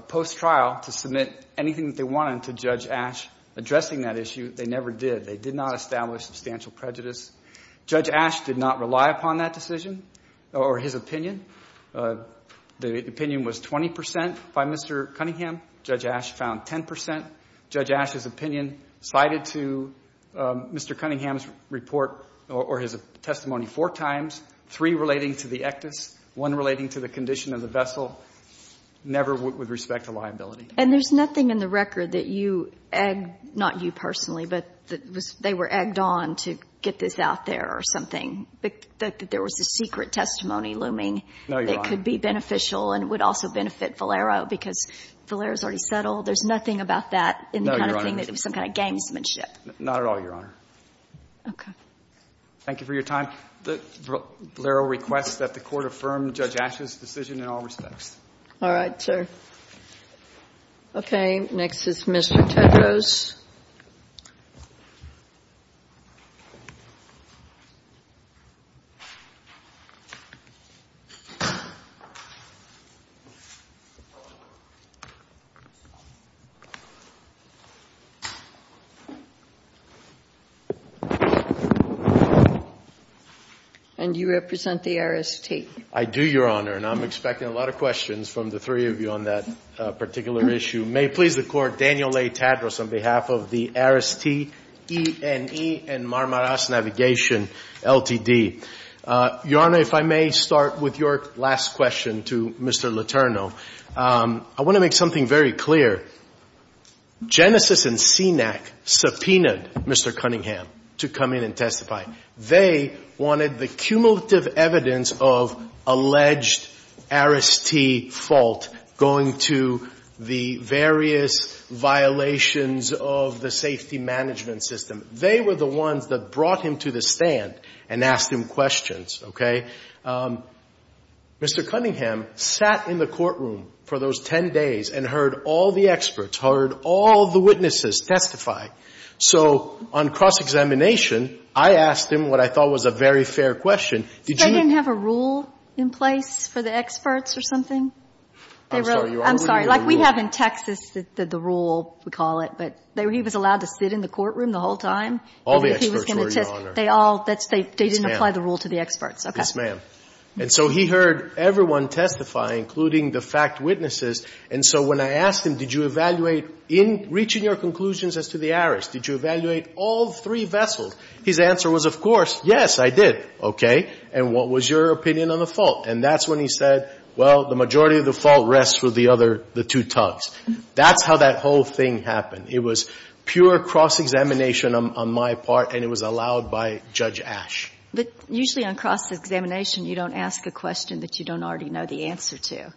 post-trial to submit anything that they wanted to Judge Ash addressing that issue. They never did. They did not establish substantial prejudice. Judge Ash did not rely upon that decision or his opinion. The opinion was 20 percent by Mr. Cunningham. Judge Ash found 10 percent. Judge Ash's opinion cited to Mr. Cunningham's report or his testimony four times, three relating to the ectus, one relating to the condition of the vessel, never with respect to liability. And there's nothing in the record that you, not you personally, but they were egged on to get this out there or something, that there was a secret testimony looming that could be beneficial and would also benefit Valero because Valero's already settled. There's nothing about that in the kind of thing that was some kind of gamesmanship. Not at all, Your Honor. Okay. Thank you for your time. The verbal request that the Court affirm Judge Ash's decision in all respects. All right, sir. Okay. Next is Mr. Tedros. And you represent the RST. I do, Your Honor. And I'm expecting a lot of questions from the three of you on that particular issue. May it please the Court, Daniel A. Tedros on behalf of the RST, E&E, and Marmaras Navigation Ltd. Your Honor, if I may start with your last question to Mr. Letourneau. I want to make something very clear. Genesis and CNAC subpoenaed Mr. Cunningham to come in and testify. They wanted the cumulative evidence of alleged RST fault going to the various violations of the safety management system. They were the ones that brought him to the stand and asked him questions. Okay? Mr. Cunningham sat in the courtroom for those 10 days and heard all the experts, heard all the witnesses testify. So on cross-examination, I asked him what I thought was a very fair question. They didn't have a rule in place for the experts or something? I'm sorry. Like we have in Texas the rule, we call it. But he was allowed to sit in the courtroom the whole time? All the experts were, Your Honor. They didn't apply the rule to the experts. Yes, ma'am. And so he heard everyone testify, including the fact witnesses. And so when I asked him, did you evaluate in reaching your conclusions as to the errors, did you evaluate all three vessels, his answer was, of course, yes, I did. Okay? And what was your opinion on the fault? And that's when he said, well, the majority of the fault rests with the other two tongues. That's how that whole thing happened. It was pure cross-examination on my part, and it was allowed by Judge Ash. But usually on cross-examination, you don't ask a question that you don't already know the answer to.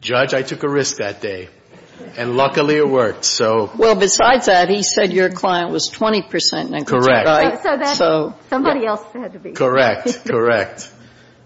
Judge, I took a risk that day. And luckily it worked, so. Well, besides that, he said your client was 20%. Correct. So somebody else had to be. Correct. Correct.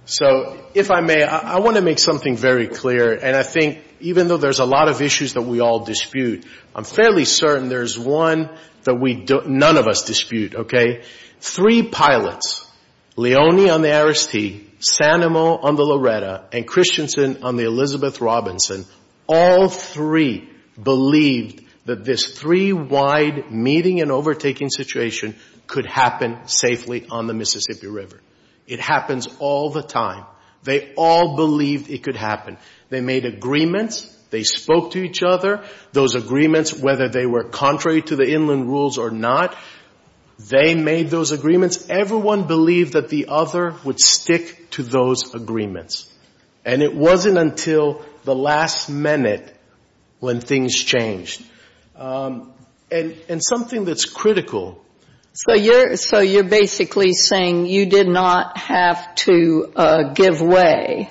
So if I may, I want to make something very clear. And I think even though there's a lot of issues that we all dispute, I'm fairly certain there's one that none of us dispute, okay? Three pilots, Leone on the Aristide, San Amo on the Loretta, and Christensen on the Elizabeth Robinson, all three believed that this three-wide meeting and overtaking situation could happen safely on the Mississippi River. It happens all the time. They all believed it could happen. They made agreements. They spoke to each other. Those agreements, whether they were contrary to the inland rules or not, they made those agreements. Everyone believed that the other would stick to those agreements. And it wasn't until the last minute when things changed. And something that's critical. So you're basically saying you did not have to give way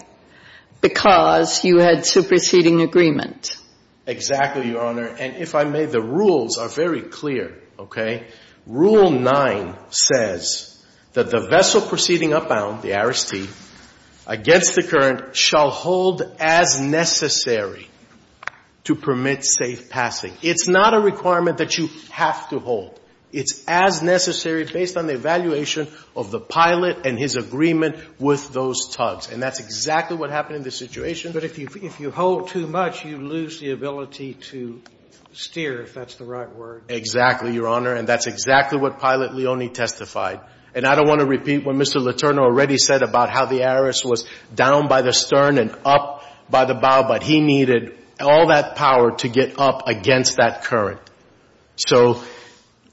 because you had superseding agreement. Exactly, Your Honor. And if I may, the rules are very clear, okay? Rule 9 says that the vessel proceeding upbound, the Aristide, against the current shall hold as necessary to permit safe passing. It's not a requirement that you have to hold. It's as necessary based on the evaluation of the pilot and his agreement with those tugs. And that's exactly what happened in this situation. But if you hold too much, you lose the ability to steer, if that's the right word. Exactly, Your Honor. And that's exactly what Pilot Leone testified. And I don't want to repeat what Mr. Letourneau already said about how the Aris was down by the stern and up by the bow. But he needed all that power to get up against that current. So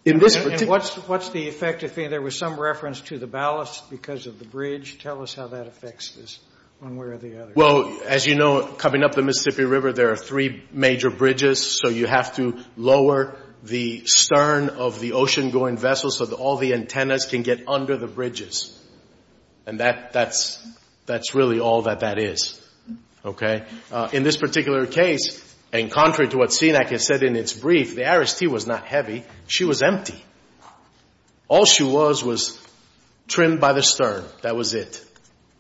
in this particular... And what's the effective thing? There was some reference to the ballast because of the bridge. Tell us how that affects this one way or the other. Well, as you know, coming up the Mississippi River, there are three major bridges. So you have to lower the stern of the ocean-going vessel so that all the antennas can get under the bridges. And that's really all that that is. Okay? In this particular case, and contrary to what Senec has said in its brief, the Aris T was not heavy. She was empty. All she was was trimmed by the stern. That was it.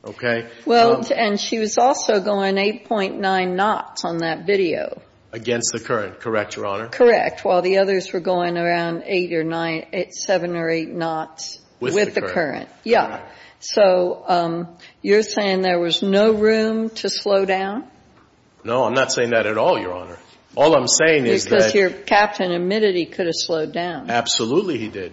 Okay? Well, and she was also going 8.9 knots on that video. Against the current. Correct, Your Honor? Correct. While the others were going around 8 or 9, 7 or 8 knots with the current. With the current. Yeah. So you're saying there was no room to slow down? No, I'm not saying that at all, Your Honor. All I'm saying is that... Because your captain admitted he could have slowed down. Absolutely he did.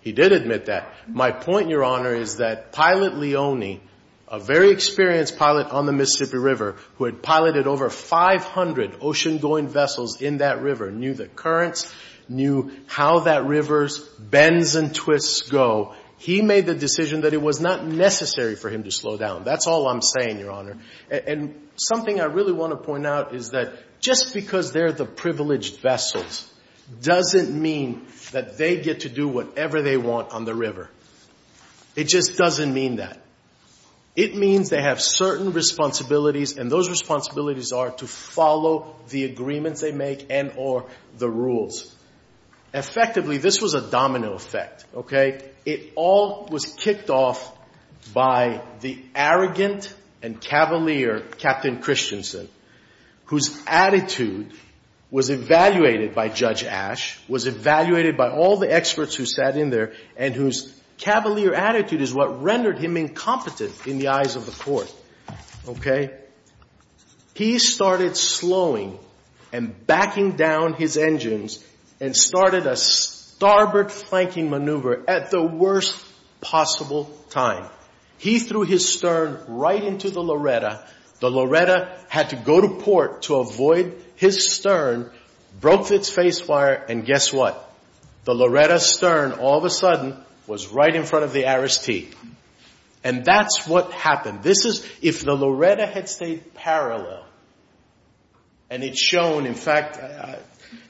He did admit that. My point, Your Honor, is that Pilot Leone, a very experienced pilot on the Mississippi River, who had piloted over 500 ocean-going vessels in that river, knew the currents, knew how that river's bends and twists go. He made the decision that it was not necessary for him to slow down. That's all I'm saying, Your Honor. And something I really want to point out is that just because they're the privileged vessels doesn't mean that they get to do whatever they want on the river. It just doesn't mean that. It means they have certain responsibilities, and those responsibilities are to follow the agreements they make and or the rules. Effectively, this was a domino effect, okay? And it all was kicked off by the arrogant and cavalier Captain Christensen, whose attitude was evaluated by Judge Ash, was evaluated by all the experts who sat in there, and whose cavalier attitude is what rendered him incompetent in the eyes of the court, okay? He started slowing and backing down his engines and started a starboard flanking maneuver at the worst possible time. He threw his stern right into the Loretta. The Loretta had to go to port to avoid his stern, broke its face wire, and guess what? The Loretta's stern, all of a sudden, was right in front of the ariste. And that's what happened. This is if the Loretta had stayed parallel, and it's shown, in fact,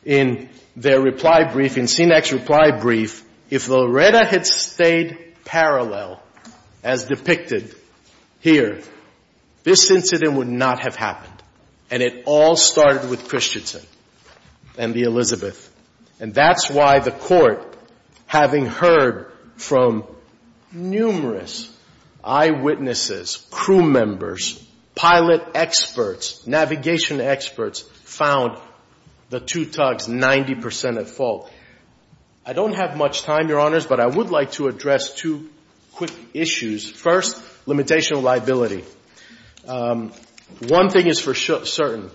in their reply brief, in Senex's reply brief, if the Loretta had stayed parallel, as depicted here, this incident would not have happened, and it all started with Christensen and the Elizabeth. And that's why the court, having heard from numerous eyewitnesses, crew members, pilot experts, navigation experts, found the two tugs 90 percent at fault. I don't have much time, Your Honors, but I would like to address two quick issues. First, limitation of liability. One thing is for certain,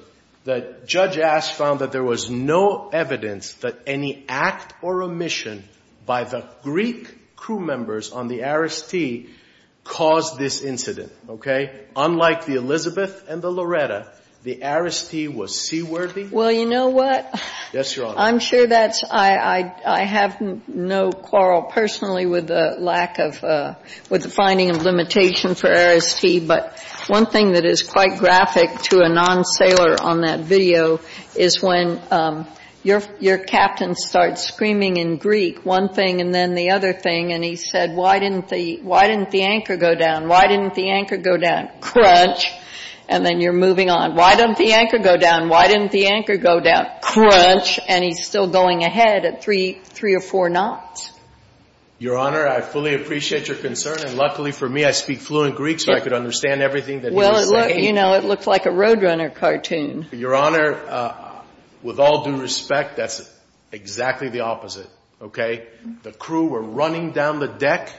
that Judge Asch found that there was no evidence that any act or omission by the Greek crew members on the ariste caused this incident. Okay? Unlike the Elizabeth and the Loretta, the ariste was seaworthy. Well, you know what? Yes, Your Honor. I'm sure that's — I have no quarrel personally with the lack of — with the finding of limitation for ariste, but one thing that is quite graphic to a non-sailor on that video is when your captain starts screaming in Greek, one thing and then the other thing, and he said, Why didn't the anchor go down? Why didn't the anchor go down? Crunch. And then you're moving on. Why didn't the anchor go down? Why didn't the anchor go down? Crunch. And he's still going ahead at three or four knots. Your Honor, I fully appreciate your concern. And luckily for me, I speak fluent Greek, so I could understand everything that he was saying. Well, you know, it looks like a Roadrunner cartoon. Your Honor, with all due respect, that's exactly the opposite. Okay? The crew were running down the deck,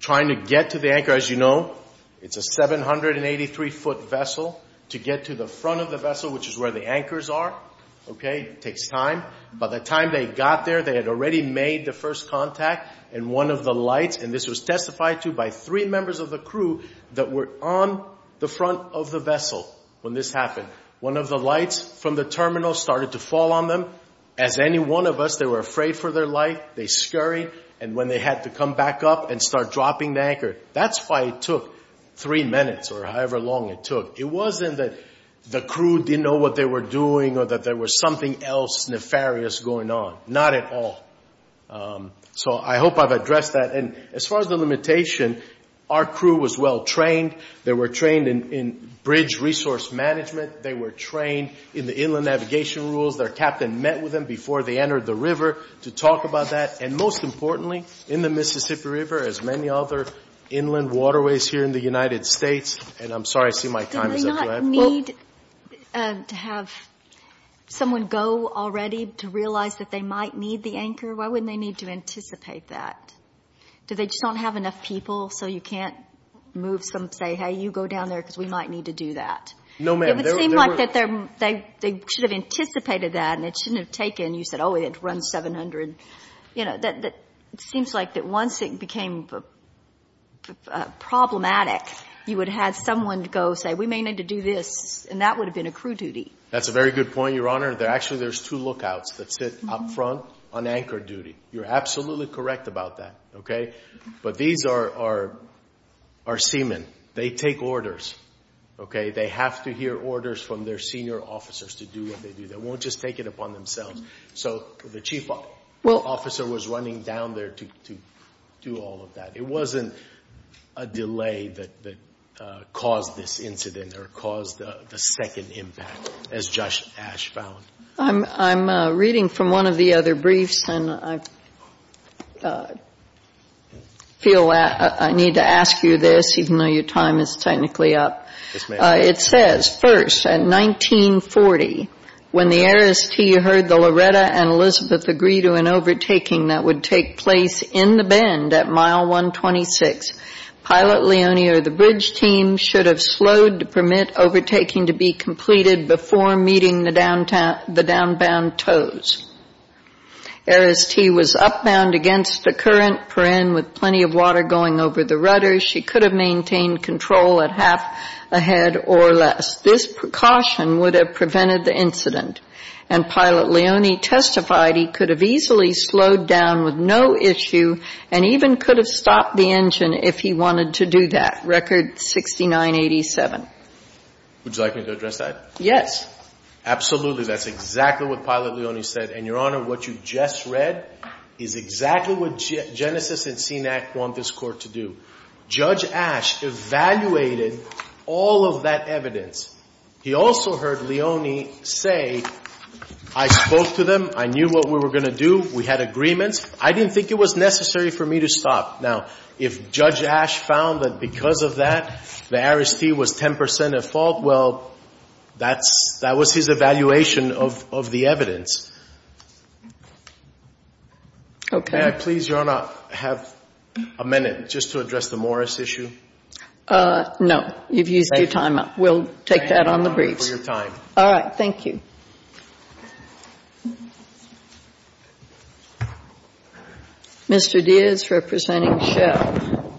trying to get to the anchor. As you know, it's a 783-foot vessel. To get to the front of the vessel, which is where the anchors are, okay, takes time. By the time they got there, they had already made the first contact, and one of the lights, and this was testified to by three members of the crew that were on the front of the vessel when this happened, one of the lights from the terminal started to fall on them. As any one of us, they were afraid for their life. They scurried. And when they had to come back up and start dropping the anchor, that's why it took three minutes or however long it took. It wasn't that the crew didn't know what they were doing or that there was something else nefarious going on. Not at all. So I hope I've addressed that. And as far as the limitation, our crew was well-trained. They were trained in bridge resource management. They were trained in the inland navigation rules. Their captain met with them before they entered the river to talk about that. And most importantly, in the Mississippi River, as many other inland waterways here in the United States, they were trained in the river management rules. And I'm sorry I see my time is up. Go ahead. Well, do they not need to have someone go already to realize that they might need the anchor? Why wouldn't they need to anticipate that? Do they just don't have enough people so you can't move some say, hey, you go down there because we might need to do that? No, ma'am. It would seem like that they should have anticipated that and it shouldn't have taken, you said, oh, it runs 700. It seems like that once it became problematic, you would have had someone go say, we may need to do this, and that would have been a crew duty. That's a very good point, Your Honor. Actually, there's two lookouts that sit up front on anchor duty. You're absolutely correct about that. But these are seamen. They take orders. They have to hear orders from their senior officers to do what they do. They won't just take it upon themselves. So the chief officer was running down there to do all of that. It wasn't a delay that caused this incident or caused the second impact, as Josh Ash found. I'm reading from one of the other briefs, and I feel I need to ask you this, even though your time is technically up. Yes, ma'am. It says, first, at 1940, when the Ares T heard the Loretta and Elizabeth agree to an overtaking that would take place in the bend at mile 126, Pilot Leone or the bridge team should have slowed to permit overtaking to be completed before meeting the downbound tows. Ares T was upbound against the current perenn with plenty of water going over the rudder. She could have maintained control at half a head or less. This precaution would have prevented the incident. And Pilot Leone testified he could have easily slowed down with no issue and even could have stopped the engine if he wanted to do that. Record 6987. Would you like me to address that? Yes. Absolutely. That's exactly what Pilot Leone said. And, Your Honor, what you just read is exactly what Genesis and Senack want this Court to do. Judge Asch evaluated all of that evidence. He also heard Leone say, I spoke to them. I knew what we were going to do. We had agreements. I didn't think it was necessary for me to stop. Now, if Judge Asch found that because of that the Ares T was 10 percent at fault, well, that's – that was his evaluation of the evidence. Okay. May I please, Your Honor, have a minute just to address the Morris issue? No. You've used your time up. We'll take that on the briefs. Thank you for your time. All right. Thank you. Thank you. Mr. Diaz representing Schell.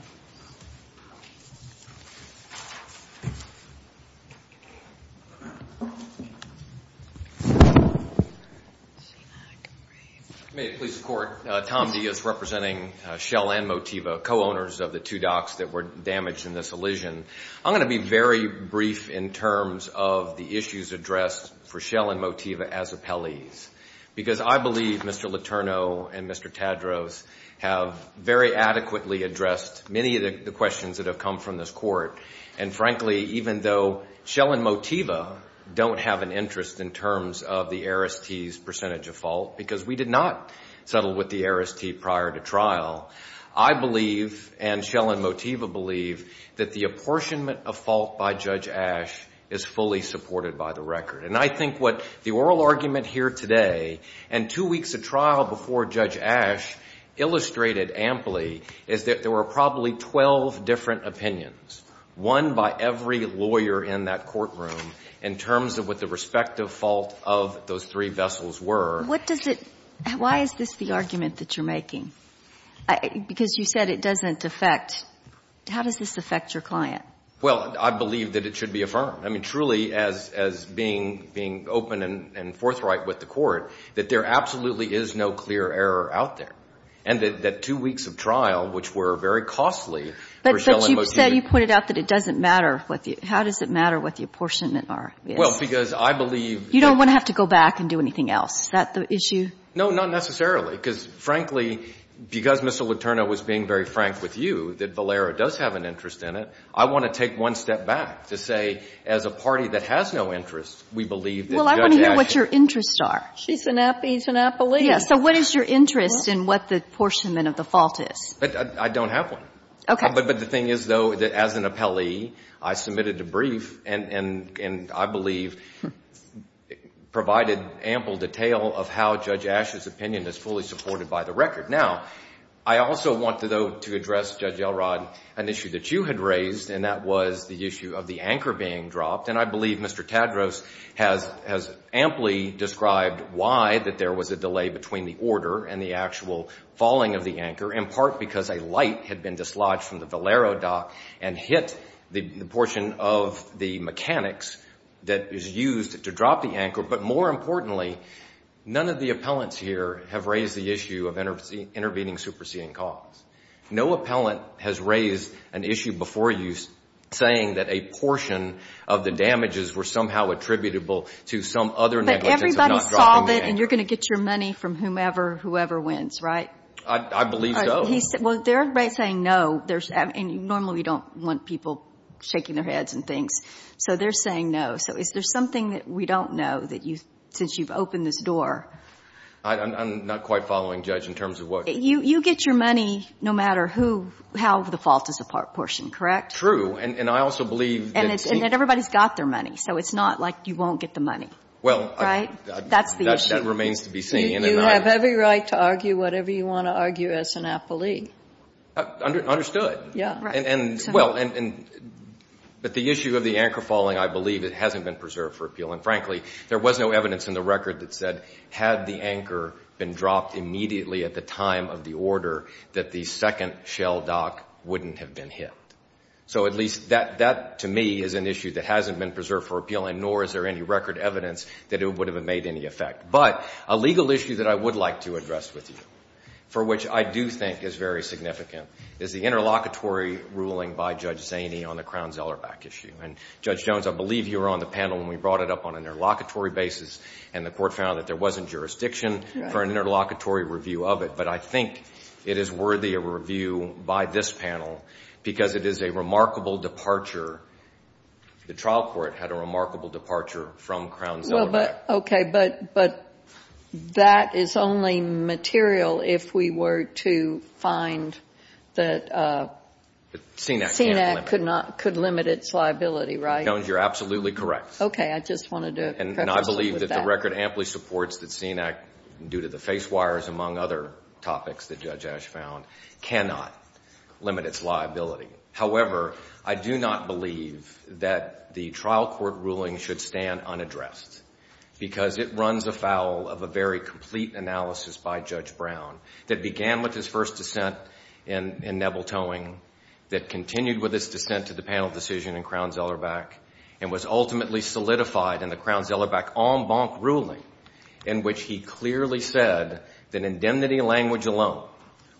May it please the Court, Tom Diaz representing Schell and Motiva, co-owners of the two docs that were damaged in this elision. I'm going to be very brief in terms of the issues addressed for Schell and Motiva as appellees. Because I believe Mr. Letourneau and Mr. Tadros have very adequately addressed many of the questions that have come from this Court. And frankly, even though Schell and Motiva don't have an interest in terms of the Ares T's percentage at fault because we did not settle with the Ares T prior to trial, I believe and Schell and Motiva believe that the apportionment of fault by Judge Asch is fully supported by the record. And I think what the oral argument here today and two weeks of trial before Judge Asch illustrated amply is that there were probably 12 different opinions, one by every lawyer in that courtroom in terms of what the respective fault of those three vessels were. What does it, why is this the argument that you're making? Because you said it doesn't affect, how does this affect your client? Well, I believe that it should be affirmed. I mean, truly as being open and forthright with the Court, that there absolutely is no clear error out there. And that two weeks of trial, which were very costly for Schell and Motiva. But you said, you pointed out that it doesn't matter what the, how does it matter what the apportionment is? Well, because I believe. You don't want to have to go back and do anything else. Is that the issue? No, not necessarily. Because, frankly, because Mr. Letourneau was being very frank with you that Valera does have an interest in it, I want to take one step back to say as a party that has no interest, we believe that Judge Asch. Well, I want to know what your interests are. She's an app, he's an appellee. Yes. So what is your interest in what the apportionment of the fault is? I don't have one. Okay. But the thing is, though, as an appellee, I submitted a brief and, I believe, provided ample detail of how Judge Asch's opinion is fully supported by the record. Now, I also want, though, to address, Judge Elrod, an issue that you had raised, and that was the issue of the anchor being dropped. And I believe Mr. Tadros has amply described why that there was a delay between the order and the actual falling of the anchor, in part because a light had been dislodged from the Valero dock and hit the portion of the mechanics that is used to drop the anchor. But more importantly, none of the appellants here have raised the issue of intervening superseding cause. No appellant has raised an issue before you saying that a portion of the damages were somehow attributable I believe so. Well, they're saying no. And normally we don't want people shaking their heads and things. So they're saying no. So is there something that we don't know since you've opened this door? I'm not quite following, Judge, in terms of what you're saying. You get your money no matter how the fault is apportioned, correct? True. And I also believe that it's not like you won't get the money. Right? That's the issue. Well, that remains to be seen. You have every right to argue whatever you want to argue as an appellee. Understood. Yeah. Well, but the issue of the anchor falling, I believe it hasn't been preserved for appealing. Frankly, there was no evidence in the record that said had the anchor been dropped immediately at the time of the order that the second shell dock wouldn't have been hit. So at least that, to me, is an issue that hasn't been preserved for appealing, nor is there any record evidence that it would have made any effect. But a legal issue that I would like to address with you, for which I do think is very significant, is the interlocutory ruling by Judge Zaney on the Crown-Zellerbach issue. And, Judge Jones, I believe you were on the panel when we brought it up on an interlocutory basis, and the court found that there wasn't jurisdiction for an interlocutory review of it. But I think it is worthy of review by this panel because it is a remarkable departure. The trial court had a remarkable departure from Crown-Zellerbach. Okay. But that is only material if we were to find that CNAC could limit its liability, right? Judge Jones, you're absolutely correct. Okay. I just wanted to preface with that. My record amply supports that CNAC, due to the face wires, among other topics that Judge Ash found, cannot limit its liability. However, I do not believe that the trial court ruling should stand unaddressed because it runs afoul of a very complete analysis by Judge Brown that began with his first dissent in Neville Towing, that continued with his dissent to the panel decision in Crown-Zellerbach, and was ultimately solidified in the Crown-Zellerbach en banc ruling in which he clearly said that indemnity language alone,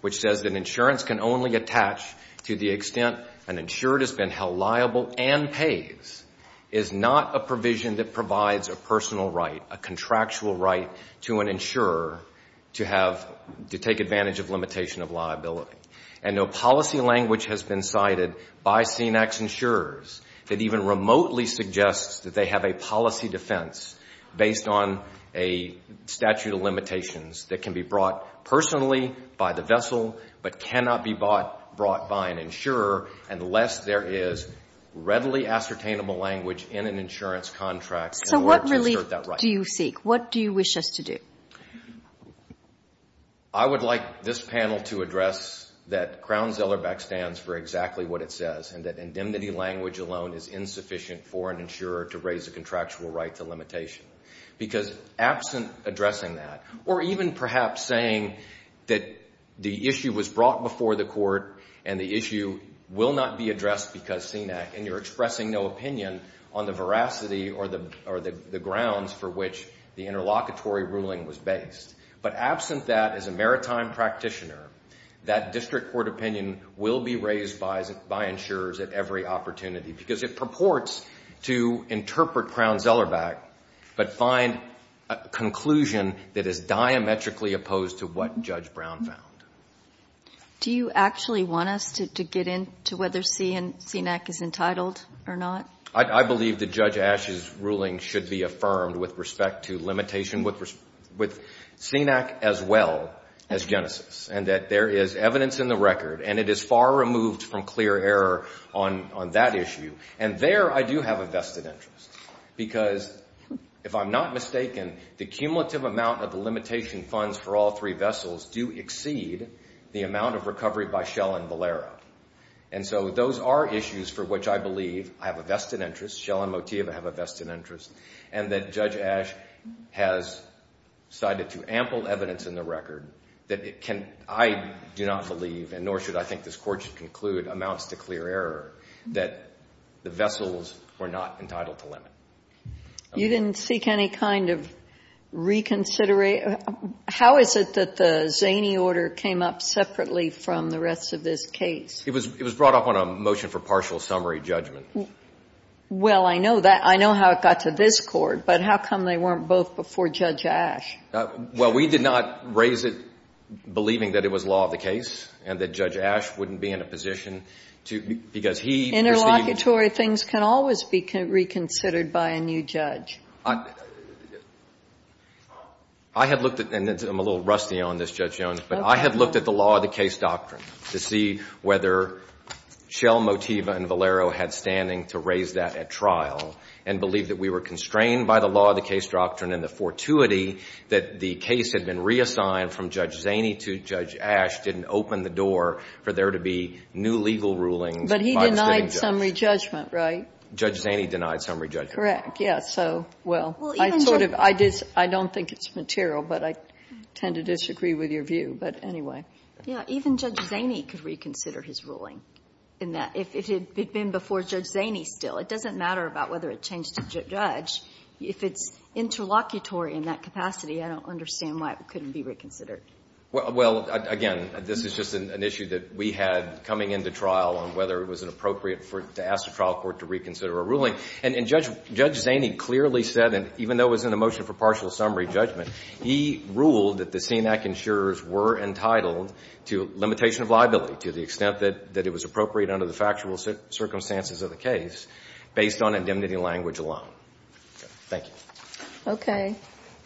which says that insurance can only attach to the extent an insured has been held liable and pays, is not a provision that provides a personal right, a contractual right, to an insurer to take advantage of limitation of liability. And no policy language has been cited by CNAC's insurers that even remotely suggests that they have a policy defense based on a statute of limitations that can be brought personally by the vessel but cannot be brought by an insurer unless there is readily ascertainable language in an insurance contract in order to assert that right. So what really do you seek? What do you wish us to do? I would like this panel to address that Crown-Zellerbach stands for exactly what it says and that indemnity language alone is insufficient for an insurer to raise a contractual right to limitation because absent addressing that, or even perhaps saying that the issue was brought before the court and the issue will not be addressed because CNAC, and you're expressing no opinion on the veracity or the grounds for which the interlocutory ruling was based. But absent that, as a maritime practitioner, that district court opinion will be raised by insurers at every opportunity because it purports to interpret Crown-Zellerbach but find a conclusion that is diametrically opposed to what Judge Brown found. Do you actually want us to get into whether CNAC is entitled or not? I believe that Judge Ashe's ruling should be affirmed with respect to limitation with CNAC as well as Genesis and that there is evidence in the record and it is far removed from clear error on that issue. And there I do have a vested interest because, if I'm not mistaken, the cumulative amount of the limitation funds for all three vessels do exceed the amount of recovery by Shell and Valero. And so those are issues for which I believe I have a vested interest, Shell and Motiva have a vested interest, and that Judge Ashe has cited to ample evidence in the record that I do not believe and nor should I think this Court should conclude amounts to clear error that the vessels were not entitled to limit. You didn't seek any kind of reconsideration. How is it that the Zaney order came up separately from the rest of this case? It was brought up on a motion for partial summary judgment. Well, I know that. I know how it got to this Court, but how come they weren't both before Judge Ashe? Well, we did not raise it believing that it was law of the case and that Judge Ashe wouldn't be in a position to, because he perceived it. Interlocutory things can always be reconsidered by a new judge. I had looked at, and I'm a little rusty on this, Judge Jones, but I had looked at the law of the case doctrine to see whether Shell, Motiva, and Valero had standing to raise that at trial and believe that we were constrained by the law of the case doctrine and the fortuity that the case had been reassigned from Judge Zaney to Judge Ashe didn't open the door for there to be new legal rulings. But he denied summary judgment, right? Judge Zaney denied summary judgment. Correct, yes. Well, I don't think it's material, but I tend to disagree with your view. But anyway. Even Judge Zaney could reconsider his ruling if it had been before Judge Zaney still. It doesn't matter about whether it changed a judge. If it's interlocutory in that capacity, I don't understand why it couldn't be reconsidered. Well, again, this is just an issue that we had coming into trial on whether it was appropriate to ask a trial court to reconsider a ruling. And Judge Zaney clearly said, and even though it was in the motion for partial summary judgment, he ruled that the CNAC insurers were entitled to limitation of liability to the extent that it was appropriate under the factual circumstances of the case based on indemnity language alone. Thank you. Okay.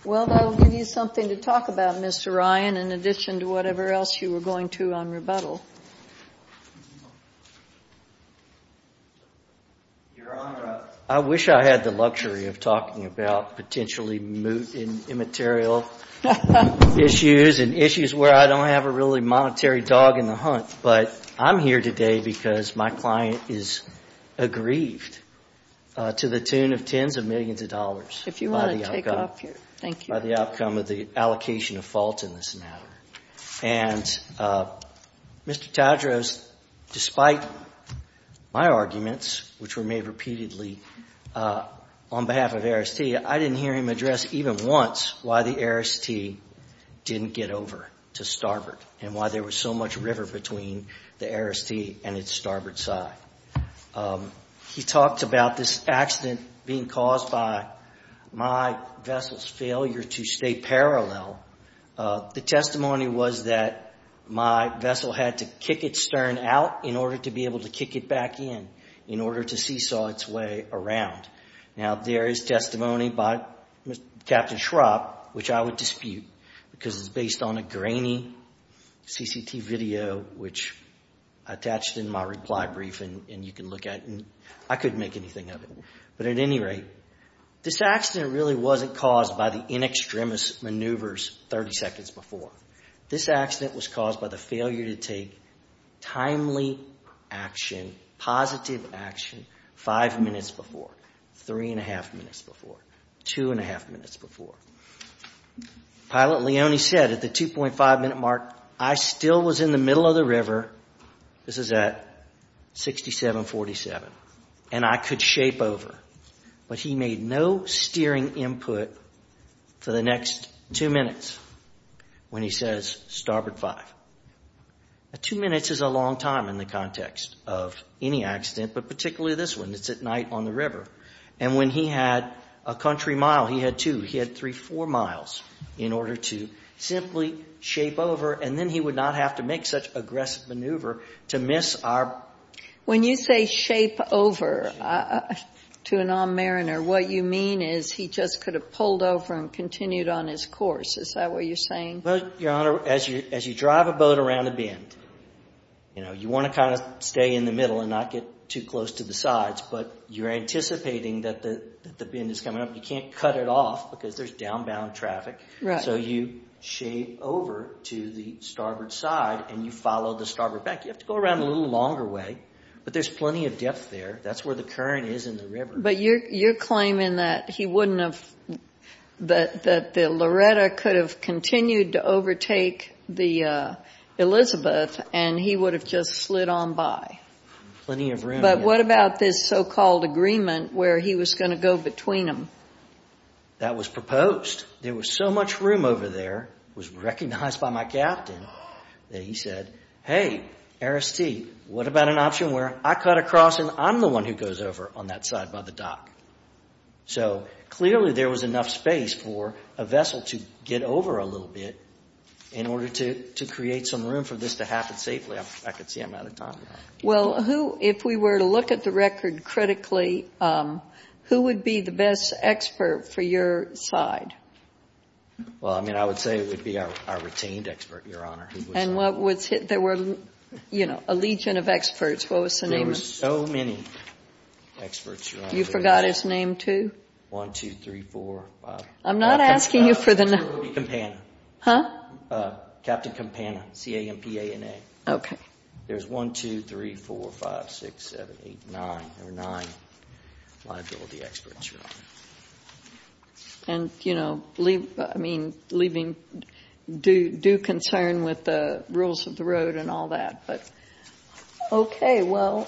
Well, that will give you something to talk about, Mr. Ryan, in addition to whatever else you were going to on rebuttal. Your Honor, I wish I had the luxury of talking about potentially moot and immaterial issues and issues where I don't have a really monetary dog in the hunt. But I'm here today because my client is aggrieved to the tune of tens of millions of dollars. If you want to take it off here. Thank you. By the outcome of the allocation of faults in this matter. And Mr. Tadros, despite my arguments, which were made repeatedly on behalf of ARIS-T, I didn't hear him address even once why the ARIS-T didn't get over to Starboard and why there was so much river between the ARIS-T and its Starboard side. He talked about this accident being caused by my vessel's failure to stay parallel. The testimony was that my vessel had to kick its stern out in order to be able to kick it back in, in order to seesaw its way around. Now, there is testimony by Captain Schrapp, which I would dispute, because it's based on a grainy CCT video, which I attached in my reply brief, and you can look at it. I couldn't make anything of it. But at any rate, this accident really wasn't caused by the in extremis maneuvers 30 seconds before. This accident was caused by the failure to take timely action, positive action, five minutes before, three-and-a-half minutes before, two-and-a-half minutes before. Pilot Leone said at the 2.5-minute mark, I still was in the middle of the river. This is at 6747. And I could shape over. But he made no steering input for the next two minutes when he says, Starboard 5. Now, two minutes is a long time in the context of any accident, but particularly this one. It's at night on the river. And when he had a country mile, he had two. He had three, four miles in order to simply shape over, and then he would not have to make such aggressive maneuver to miss our. When you say shape over to a non-mariner, what you mean is he just could have pulled over and continued on his course. Is that what you're saying? Well, Your Honor, as you drive a boat around a bend, you know, you want to kind of stay in the middle and not get too close to the sides. But you're anticipating that the bend is coming up. You can't cut it off because there's downbound traffic. So you shape over to the starboard side and you follow the starboard back. You have to go around a little longer way, but there's plenty of depth there. That's where the current is in the river. But you're claiming that he wouldn't have – that the Loretta could have continued to overtake the Elizabeth and he would have just slid on by. Plenty of room. But what about this so-called agreement where he was going to go between them? That was proposed. There was so much room over there, it was recognized by my captain, that he said, hey, RST, what about an option where I cut across and I'm the one who goes over on that side by the dock? So clearly there was enough space for a vessel to get over a little bit in order to create some room for this to happen safely. I can see I'm out of time. Well, who – if we were to look at the record critically, who would be the best expert for your side? Well, I mean, I would say it would be our retained expert, Your Honor. And what was – there were, you know, a legion of experts. What was the name of them? There were so many experts, Your Honor. You forgot his name, too? One, two, three, four, five. I'm not asking you for the – It would be Campana. Huh? Captain Campana, C-A-M-P-A-N-A. Okay. There's one, two, three, four, five, six, seven, eight, nine. There were nine liability experts, Your Honor. And, you know, I mean, leaving due concern with the rules of the road and all that. But okay, well,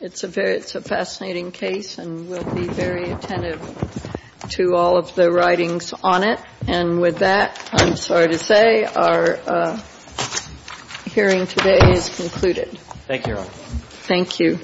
it's a fascinating case, and we'll be very attentive to all of the writings on it. And with that, I'm sorry to say our hearing today is concluded. Thank you, Your Honor. Thank you.